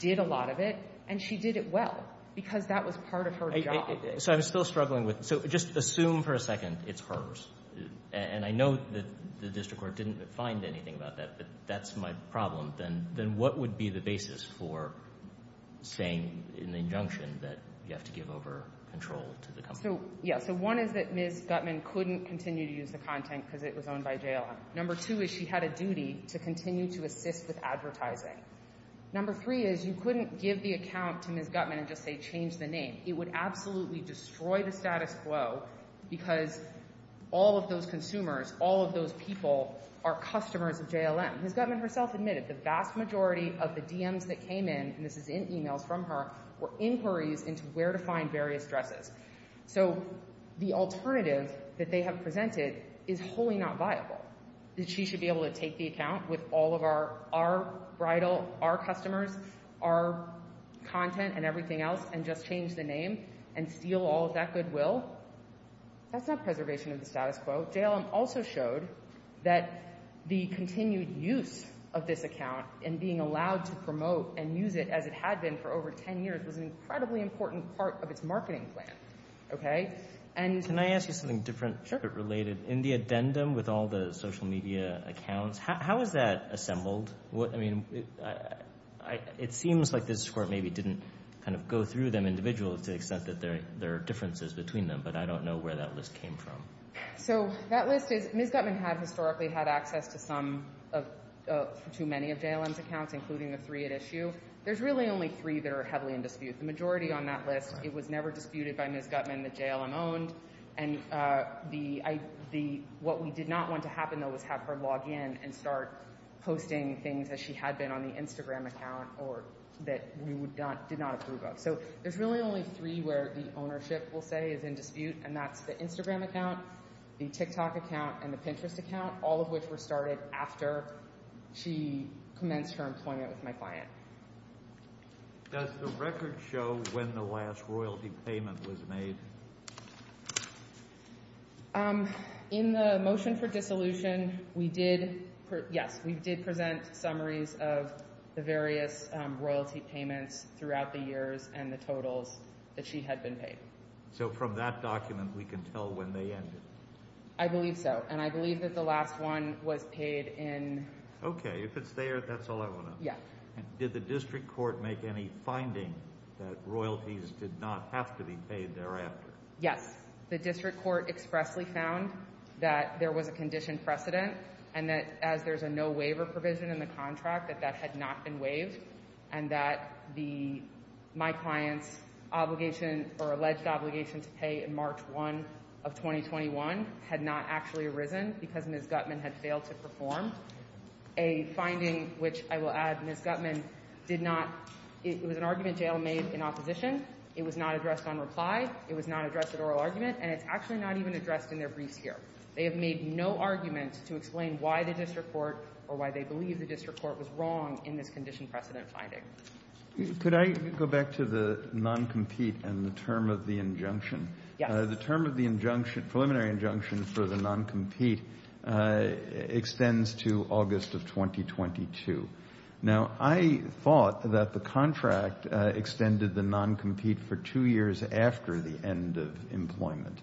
did a lot of it, and she did it well because that was part of her job. So I'm still struggling with it. So just assume for a second it's hers. And I know the district court didn't find anything about that, but that's my problem. Then what would be the basis for saying in the injunction that you have to give over control to the company? So one is that Ms. Guttman couldn't continue to use the content because it was owned by JLM. Number two is she had a duty to continue to assist with advertising. Number three is you couldn't give the account to Ms. Guttman and just say change the name. It would absolutely destroy the status quo because all of those consumers, all of those people are customers of JLM. Ms. Guttman herself admitted the vast majority of the DMs that came in, and this is in e-mails from her, were inquiries into where to find various dresses. So the alternative that they have presented is wholly not viable. That she should be able to take the account with all of our bridal, our customers, our content and everything else and just change the name and steal all of that goodwill? That's not preservation of the status quo. But JLM also showed that the continued use of this account and being allowed to promote and use it as it had been for over 10 years was an incredibly important part of its marketing plan. Can I ask you something different? Sure. In the addendum with all the social media accounts, how is that assembled? It seems like this report maybe didn't kind of go through them individually to accept that there are differences between them, but I don't know where that list came from. So that list is Ms. Guttman had historically had access to many of JLM's accounts, including the three at issue. There's really only three that are heavily in dispute. The majority on that list, it was never disputed by Ms. Guttman that JLM owned. And what we did not want to happen, though, was have her log in and start posting things that she had been on the Instagram account or that we did not approve of. So there's really only three where the ownership, we'll say, is in dispute, and that's the Instagram account, the TikTok account, and the Pinterest account, all of which were started after she commenced her employment with my client. Does the record show when the last royalty payment was made? In the motion for dissolution, yes, we did present summaries of the various royalty payments throughout the years and the totals that she had been paid. So from that document, we can tell when they ended? I believe so, and I believe that the last one was paid in— Okay, if it's there, that's all I want to know. Yes. Did the district court make any findings that royalties did not have to be paid thereafter? Yes. The district court expressly found that there was a condition precedent and that as there's a no waiver provision in the contract, that that had not been waived, and that my client's obligation or alleged obligation to pay in March 1 of 2021 had not actually arisen because Ms. Guttman had failed to perform. A finding which, I will add, Ms. Guttman did not— it was an argument jail made in opposition, it was not addressed on reply, it was not addressed at oral argument, and it's actually not even addressed in their brief here. They have made no argument to explain why the district court or why they believe the district court was wrong in this condition precedent finding. Could I go back to the non-compete and the term of the injunction? Yes. The term of the preliminary injunction for the non-compete extends to August of 2022. Now, I thought that the contract extended the non-compete for two years after the end of employment,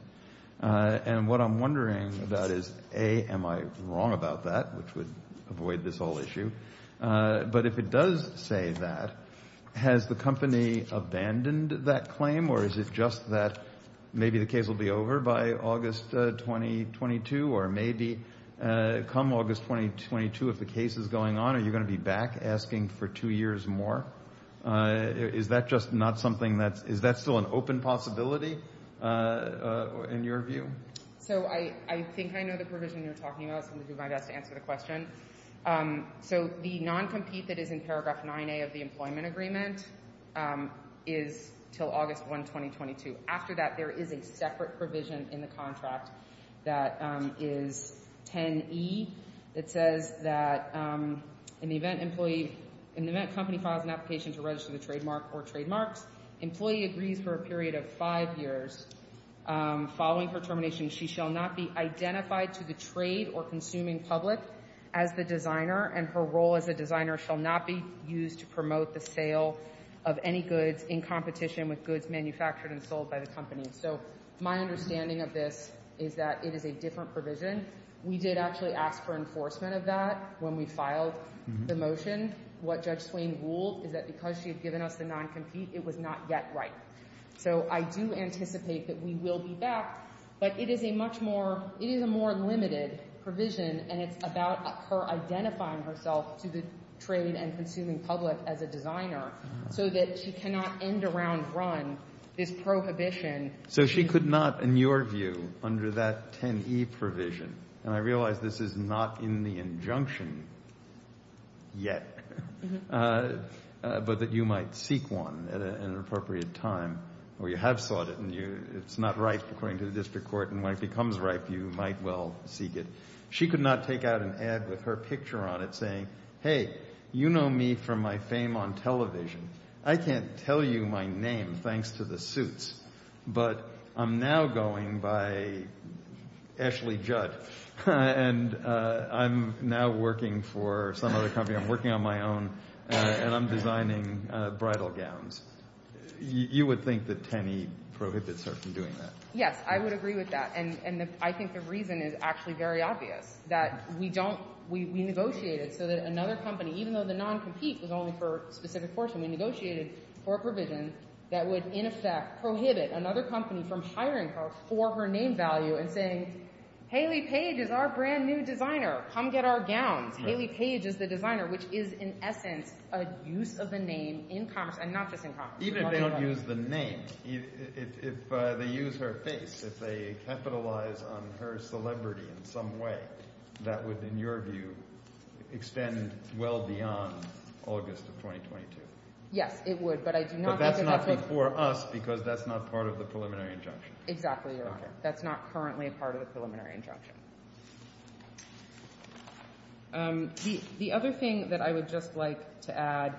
and what I'm wondering about is, A, am I wrong about that, which would avoid this whole issue, but if it does say that, has the company abandoned that claim or is it just that maybe the case will be over by August 2022 or maybe come August 2022, if the case is going on, are you going to be back asking for two years more? Is that just not something that, is that still an open possibility in your view? So I think I know the provision you're talking about, so I'm going to do my best to answer the question. So the non-compete that is in paragraph 9A of the employment agreement is until August 1, 2022. After that, there is a separate provision in the contract that is 10E that says that in the event company files an application to register the trademark or trademarks, employee agrees for a period of five years following her termination, she shall not be identified to the trade or consuming public as the designer and her role as a designer shall not be used to promote the sale of any goods in competition with goods manufactured and sold by the company. So my understanding of this is that it is a different provision. We did actually ask for enforcement of that when we filed the motion. What Judge Swain ruled is that because she's given up the non-compete, it was not yet right. So I do anticipate that we will be back, but it is a much more, it is a more limited provision and it's about her identifying herself to the trade and consuming public as a designer so that she cannot end around run this prohibition. So she could not, in your view, under that 10E provision, and I realize this is not in the injunction yet, but that you might seek one at an appropriate time where you have sought it and it's not right according to the district court and when it becomes right, you might well seek it. She could not take out an ad with her picture on it saying, hey, you know me from my fame on television. I can't tell you my name thanks to the suits, but I'm now going by Ashley Judd and I'm now working for some other company. I'm working on my own and I'm designing bridal gowns. You would think that 10E prohibits her from doing that. Yes, I would agree with that, and I think the reason is actually very obvious, that we don't, we negotiated so that another company, even though the non-compete was only for a specific portion, we negotiated for a provision that would in effect prohibit another company from hiring her for her name value and saying, Hayley Page is our brand new designer. Come get our gown. Hayley Page is a designer, which is in essence a use of the name in commerce and not just in commerce. Even if they don't use the name, if they use her face, if they capitalize on her celebrity in some way, that would, in your view, extend well beyond August of 2022. Yes, it would, but I do not think it would. But that's not for us because that's not part of the preliminary injunction. Exactly right. That's not currently part of the preliminary injunction. The other thing that I would just like to add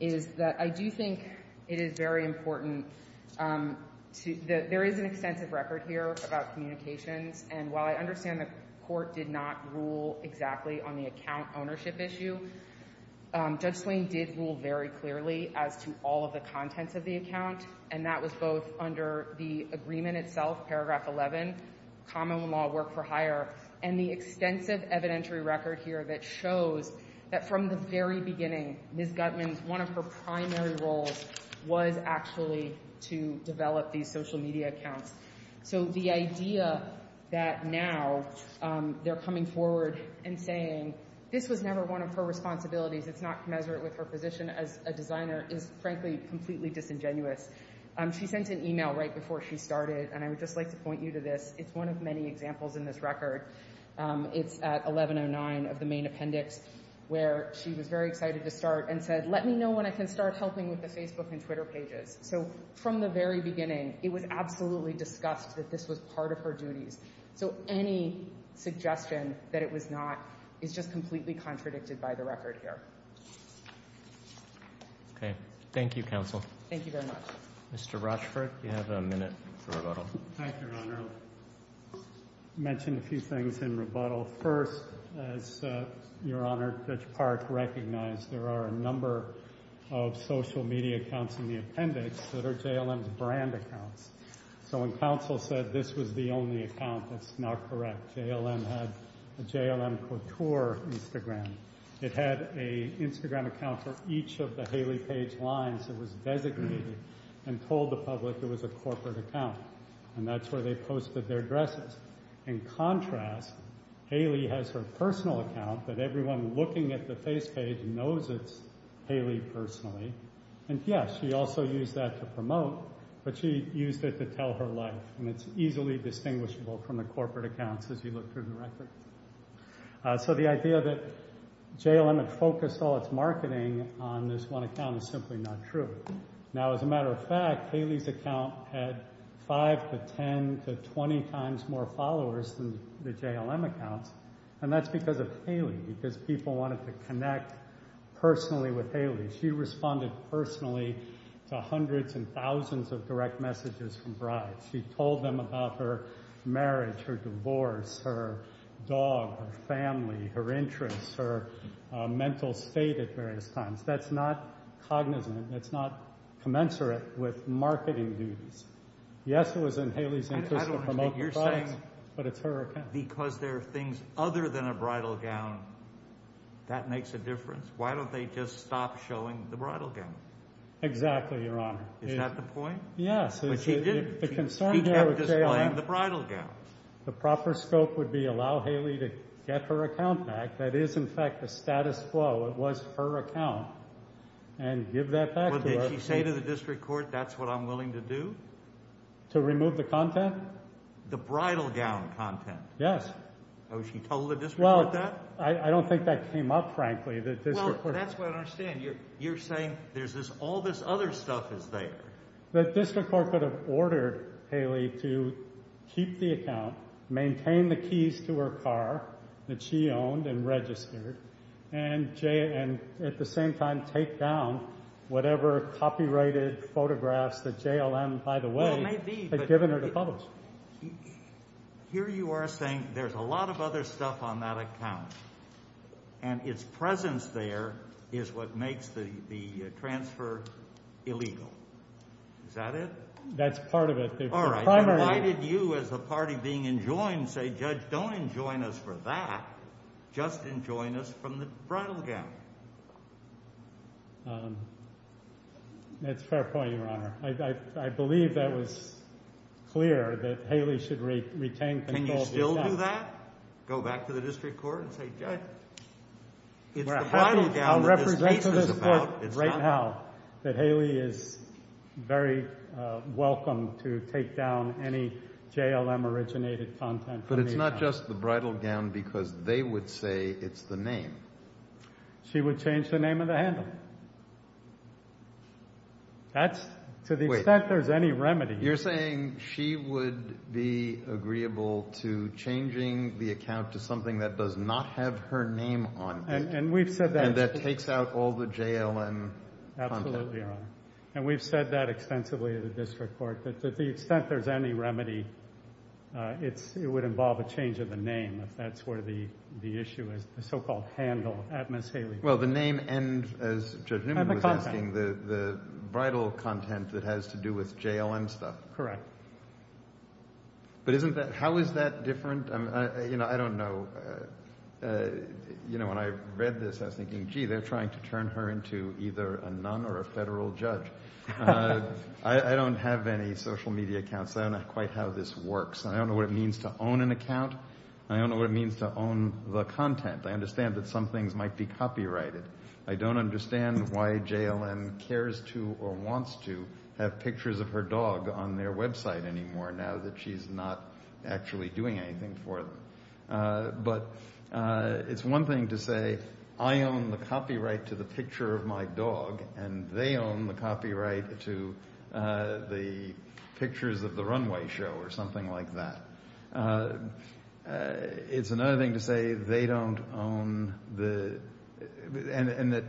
is that I do think it is very important. There is an extensive record here about communications, and while I understand the court did not rule exactly on the account ownership issue, Judge Klain did rule very clearly as to all the contents of the account, and that was both under the agreement itself, Paragraph 11, common law work for hire, and the extensive evidentiary record here that shows that from the very beginning Ms. Guzman's one of her primary roles was actually to develop these social media accounts. So the idea that now they're coming forward and saying this was never one of her responsibilities, it's not measured with her position as a designer, is frankly completely disingenuous. She sent an email right before she started, and I would just like to point you to this. It's one of many examples in this record. It's at 1109 of the main appendix, where she was very excited to start and said, let me know when I can start helping with the Facebook and Twitter pages. So from the very beginning, it would absolutely discuss that this was part of her duty. So any suggestion that it was not is just completely contradicted by the record here. Okay. Thank you, Counsel. Thank you very much. Mr. Rochefort, you have a minute for rebuttal. Thank you, Your Honor. I mentioned a few things in rebuttal. First, Your Honor, Judge Park recognized there are a number of social media accounts in the appendix that are JLM's brand accounts. So when Counsel said this was the only account, that's not correct. JLM had a JLM Couture Instagram. It had an Instagram account for each of the Haley Page lines that was designated and told the public it was a corporate account, and that's where they posted their dresses. In contrast, Haley has her personal account, but everyone looking at the page knows it's Haley personally. And, yes, she also used that to promote, but she used it to tell her life, and it's easily distinguishable from the corporate accounts as you look through the record. So the idea that JLM had focused all its marketing on this one account is simply not true. Now, as a matter of fact, Haley's account had 5 to 10 to 20 times more followers than the JLM account, and that's because of Haley, because people wanted to connect personally with Haley. She responded personally to hundreds and thousands of direct messages from brides. She told them about her marriage, her divorce, her dog, her family, her interests, her mental state at various times. That's not cognizant. That's not commensurate with marketing views. Yes, it was in Haley's interest to promote the bride, but it's her account. Because there are things other than a bridal gown that makes a difference. Why don't they just stop showing the bridal gown? Exactly, Your Honor. Is that the point? Yes. She kept displaying the bridal gown. The proper scope would be allow Haley to get her account back. That is, in fact, the status quo. It was her account, and give that back to her. Did she say to the district court, that's what I'm willing to do? To remove the content? The bridal gown content. Yes. So she told the district court that? I don't think that came up, frankly. Well, that's what I don't understand. You're saying there's all this other stuff that's there. The district court would have ordered Haley to keep the account, maintain the keys to her car that she owned and registered, and at the same time take down whatever copyrighted photographs that JLM, by the way, had given her to publish. Here you are saying there's a lot of other stuff on that account, and its presence there is what makes the transfer illegal. Is that it? That's part of it. All right. Why did you, as the party being enjoined, say, Judge, don't enjoin us for that. Just enjoin us from the bridal gown. That's a fair point, Your Honor. I believe that was clear that Haley should retain control of herself. Can you still do that? Go back to the district court and say, Judge, it's the bridal gown that it's about. I'll represent to the court right now that Haley is very welcome to take down any JLM-originated content from the account. But it's not just the bridal gown because they would say it's the name. She would change the name of the handle. That's to the extent there's any remedy. You're saying she would be agreeable to changing the account to something that does not have her name on it. And we've said that. And that takes out all the JLM content. Absolutely, Your Honor. And we've said that extensively at the district court, that to the extent there's any remedy, it would involve a change of the name. That's where the issue is, the so-called handle at Ms. Haley. Well, the name ends, as Judge Newman was asking, the bridal content that has to do with JLM stuff. Correct. But how is that different? I don't know. When I read this, I was thinking, gee, they're trying to turn her into either a nun or a federal judge. I don't have any social media accounts. I don't know quite how this works. I don't know what it means to own an account. I don't know what it means to own the content. I understand that some things might be copyrighted. I don't understand why JLM cares to or wants to have pictures of her dog on their website anymore now that she's not actually doing anything for them. But it's one thing to say, I own the copyright to the picture of my dog, and they own the copyright to the pictures of the runway show or something like that. It's another thing to say they don't own the... and that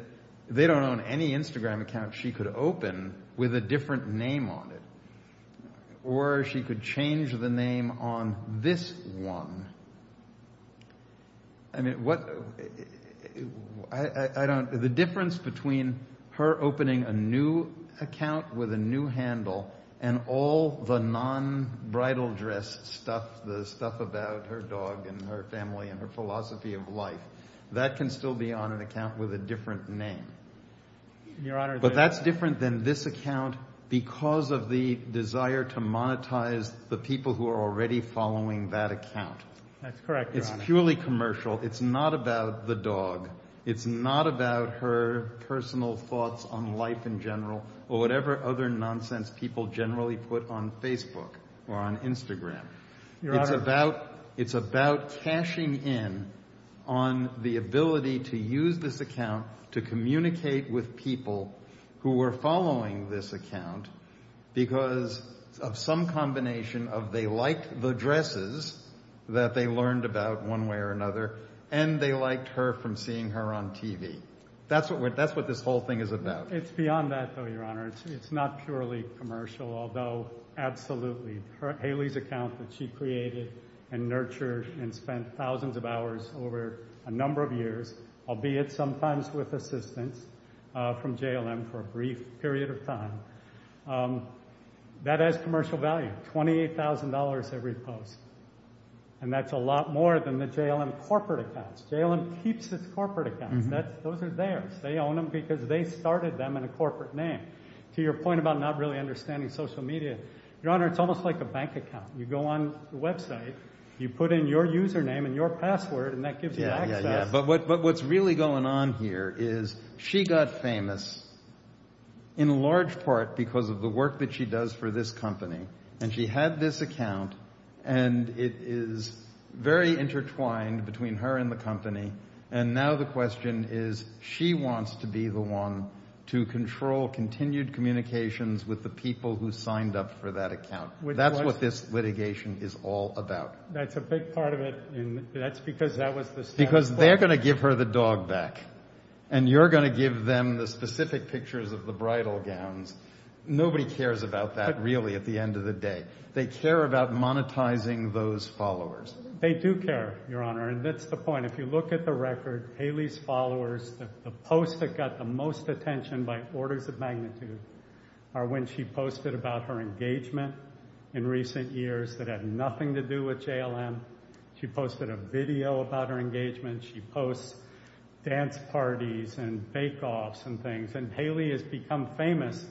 they don't own any Instagram account she could open with a different name on it. Or she could change the name on this one. I mean, what... I don't... The difference between her opening a new account with a new handle and all the non-bridal dress stuff, the stuff about her dog and her family and her philosophy of life, that can still be on an account with a different name. But that's different than this account because of the desire to monetize the people who are already following that account. It's purely commercial. It's not about the dog. It's not about her personal thoughts on life in general or whatever other nonsense people generally put on Facebook or on Instagram. It's about cashing in on the ability to use this account to communicate with people who were following this account because of some combination of they liked the dresses that they learned about one way or another, and they liked her from seeing her on TV. That's what this whole thing is about. It's beyond that, though, Your Honor. It's not purely commercial, although absolutely. Hayley's account that she created and nurtured and spent thousands of hours over a number of years, albeit sometimes with assistance from JLM for a brief period of time, that has commercial value, $28,000 every post. And that's a lot more than the JLM corporate accounts. JLM keeps its corporate accounts. Those are theirs. They own them because they started them in a corporate name. To your point about not really understanding social media, Your Honor, it's almost like a bank account. You go on the website, you put in your username and your password, and that gives you access. But what's really going on here is she got famous in large part because of the work that she does for this company. and it is very intertwined between her and the company. And now the question is, she wants to be the one to control continued communications with the people who signed up for that account. That's what this litigation is all about. That's a big part of it, and that's because that was the standard. Because they're going to give her the dog back, and you're going to give them the specific pictures of the bridal gowns. Nobody cares about that, really, at the end of the day. They care about monetizing those followers. They do care, Your Honor, and that's the point. If you look at the record, Haley's followers, the posts that got the most attention by orders of magnitude are when she posted about her engagement in recent years that had nothing to do with JLM. She posted a video about her engagement. She posts dance parties and fake-offs and things. And Haley has become famous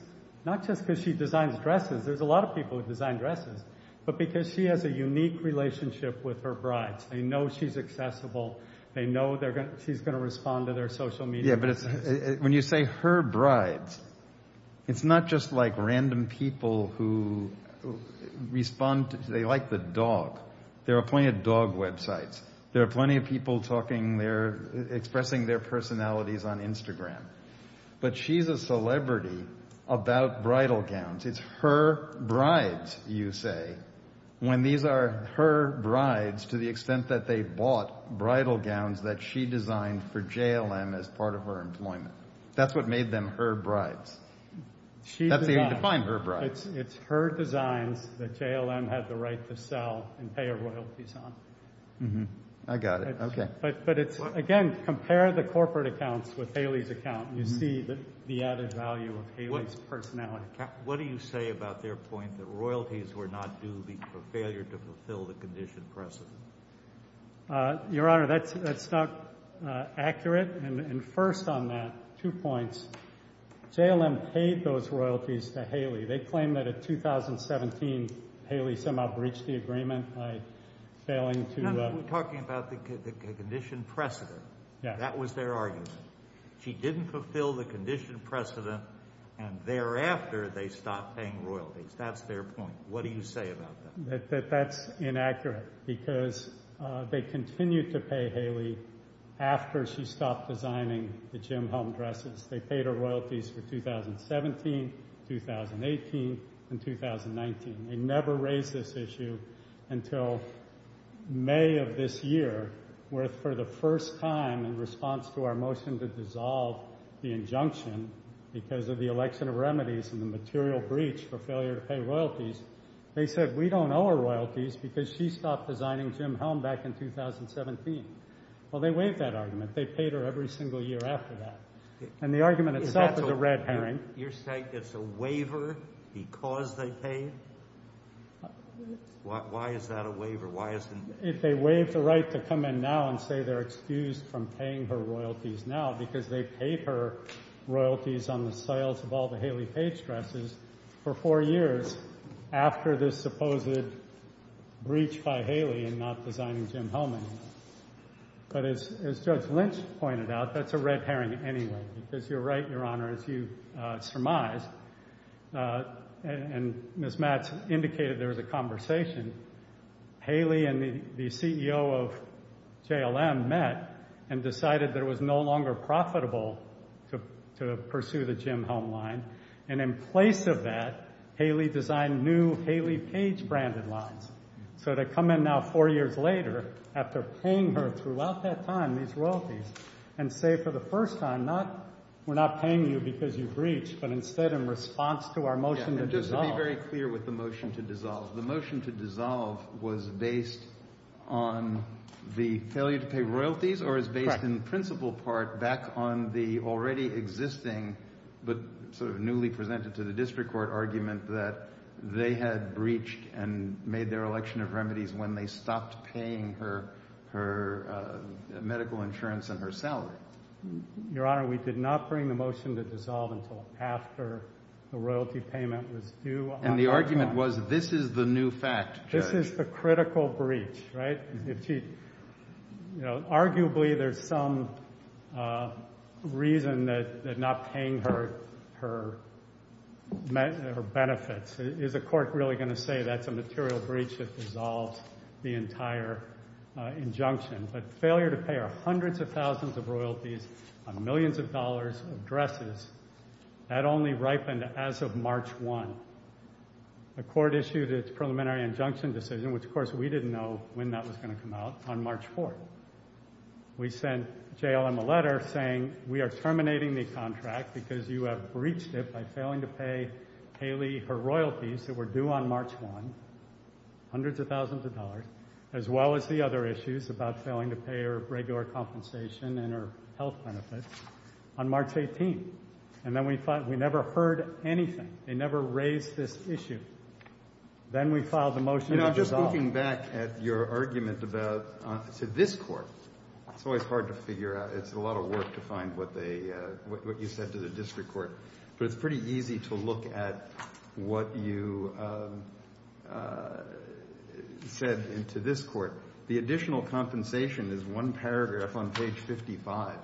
not just because she designs dresses. There's a lot of people who design dresses. But because she has a unique relationship with her brides. They know she's accessible. They know she's going to respond to their social media. Yeah, but when you say her brides, it's not just like random people who respond. They like the dog. There are plenty of dog websites. There are plenty of people talking there, expressing their personalities on Instagram. But she's a celebrity about bridal gowns. It's her brides, you say, when these are her brides, to the extent that they bought bridal gowns that she designed for JLM as part of her employment. That's what made them her brides. That's how you define her brides. It's her design that JLM had the right to sell and pay her royalties on. I got it. Okay. But again, compare the corporate accounts with Haley's account. You see the added value of Haley's personality. What do you say about their point that the royalties were not due for failure to fulfill the condition precedent? Your Honor, that's not accurate. And first on that, two points. JLM paid those royalties to Haley. They claim that in 2017, Haley somehow breached the agreement by failing to... You're talking about the condition precedent. That was their argument. She didn't fulfill the condition precedent, and thereafter, they stopped paying royalties. That's their point. What do you say about that? That's inaccurate, because they continued to pay Haley after she stopped designing the JLM home dresses. They paid her royalties in 2017, 2018, and 2019. They never raised this issue until May of this year, where, for the first time in response to our motion to dissolve the injunction because of the election of remedies and the material breach for failure to pay royalties, they said, we don't owe her royalties because she stopped designing Jim's home back in 2017. Well, they waived that argument. They paid her every single year after that. And the argument itself is a red herring. You're saying it's a waiver because they paid? Why is that a waiver? Why is it... If they waive the right to come in now and say they're excused from paying her royalties now because they paid her royalties on the sales of all the Haley page dresses for four years after this supposed breach by Haley in not designing Jim's home anymore. But as Judge Lynch pointed out, that's a red herring anyway, because you're right, Your Honor, if you surmise, and Ms. Matz indicated there was a conversation, Haley and the CEO of JLM met and decided that it was no longer profitable to pursue the Jim home line. And in place of that, Haley designed new Haley page branded lines. So they come in now four years later after paying her throughout that time these royalties and say for the first time, we're not paying you because you breached, but instead in response to our motion to dissolve. Just to be very clear with the motion to dissolve. The motion to dissolve was based on the failure to pay royalties or is based in principle part back on the already existing, but sort of newly presented to the district court argument that they had breached and made their election of remedies when they stopped paying her medical insurance and her salary. Your Honor, we did not bring the motion to dissolve until after the royalty payment was due. And the argument was, this is the new facts, Judge. This is a critical breach, right? You know, arguably there's some reason that not paying her benefits. Is the court really going to say that's a material breach that dissolves the entire injunction? But failure to pay her hundreds of thousands of royalties on millions of dollars of dresses had only ripened as of March 1. The court issued its preliminary injunction decision, which of course we didn't know when that was going to come out, on March 4. We sent JLM a letter saying, we are terminating the contract because you have breached it by failing to pay Haley her royalties that were due on March 1, hundreds of thousands of dollars, as well as the other issues about failing to pay her regular compensation and her health benefits on March 18. And then we thought, we never heard anything. They never raised this issue. Then we filed the motion to dissolve. Just looking back at your argument to this court, it's always hard to figure out. It's a lot of work to find what you said to the district court. But it's pretty easy to look at what you said to this court. The additional compensation is one paragraph on page 55.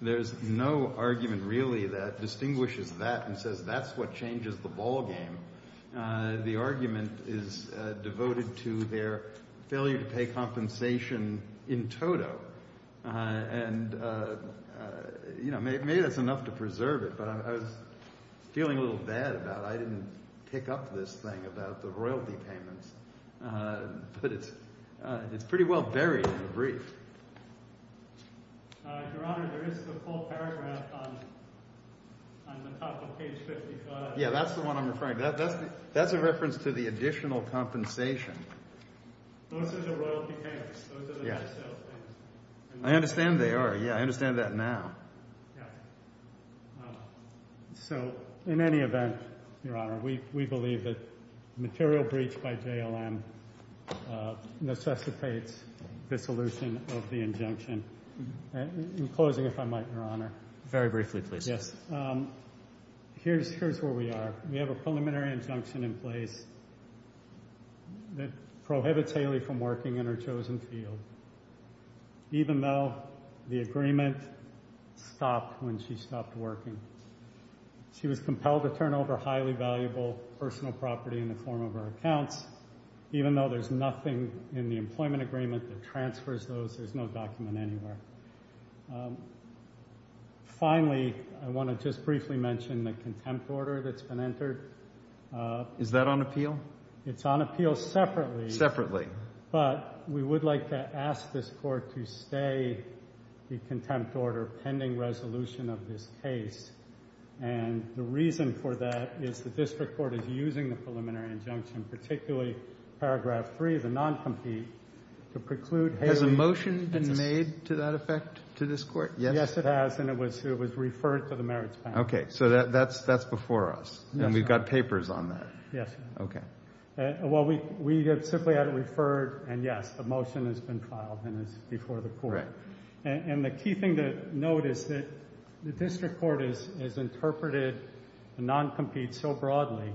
There's no argument really that distinguishes that and says that's what changes the ballgame. The argument is devoted to their failure to pay compensation in total. It made us enough to preserve it, but I was feeling a little bad about it. I didn't pick up this thing about the royalty payments. It's pretty well buried in the brief. Your Honor, there is a full paragraph on the top of page 55. Yeah, that's the one I'm referring to. That's a reference to the additional compensation. Those are the royalty payments. I understand they are. Yeah, I understand that now. In any event, Your Honor, we believe that the material breach by JLM necessitates the dissolution of the injunction. In closing, if I might, Your Honor. Very briefly, please. Yes. Here's where we are. We have a preliminary injunction in place that prohibits Haley from working in her chosen field, even though the agreement stopped when she stopped working. She was compelled to turn over highly valuable personal property in the form of her accounts, even though there's nothing in the employment agreement that transfers those. There's no document anymore. Finally, I want to just briefly mention the contempt order that's been entered. Is that on appeal? It's on appeal separately. Separately. But we would like to ask this court to stay the contempt order pending resolution of this case. And the reason for that is the district court is using the preliminary injunction, particularly paragraph three, the non-compete, to preclude Haley from working. Has a motion been made to that effect to this court? Yes, it has. And it was referred to the merits panel. Okay. So that's before us. And we've got papers on that. Yes. Okay. Well, we have simply had it referred. And, yes, a motion has been filed, and it's before the court. And the key thing to note is that the district court has interpreted non-compete so broadly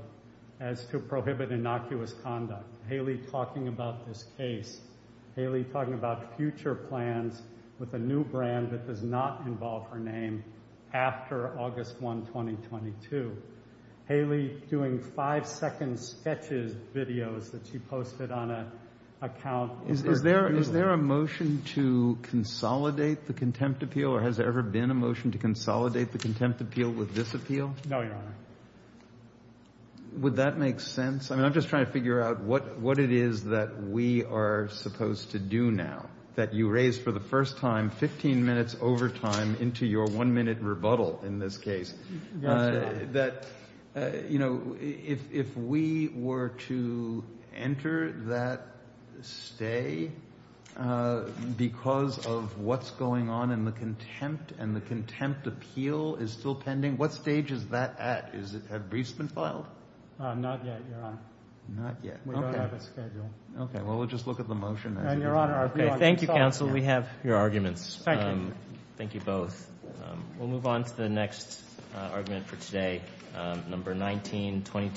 as to prohibit innocuous conduct. Haley talking about this case. Haley talking about future plans with a new brand that does not involve her name after August 1, 2022. Haley doing five-second sketches videos that she posted on an account. Is there a motion to consolidate the contempt appeal, or has there ever been a motion to consolidate the contempt appeal with this appeal? No, Your Honor. Would that make sense? I mean, I'm just trying to figure out what it is that we are supposed to do now, that you raised for the first time, 15 minutes over time into your one-minute rebuttal in this case. That, you know, if we were to enter that stay because of what's going on in the contempt and the contempt appeal is still pending, what stage is that at? Have briefs been filed? Not yet, Your Honor. Not yet, okay. We don't have a schedule. Okay, well, we'll just look at the motion then. Thank you, counsel. We have your arguments. Thank you. Thank you both. We'll move on to the next argument for today, number 1922.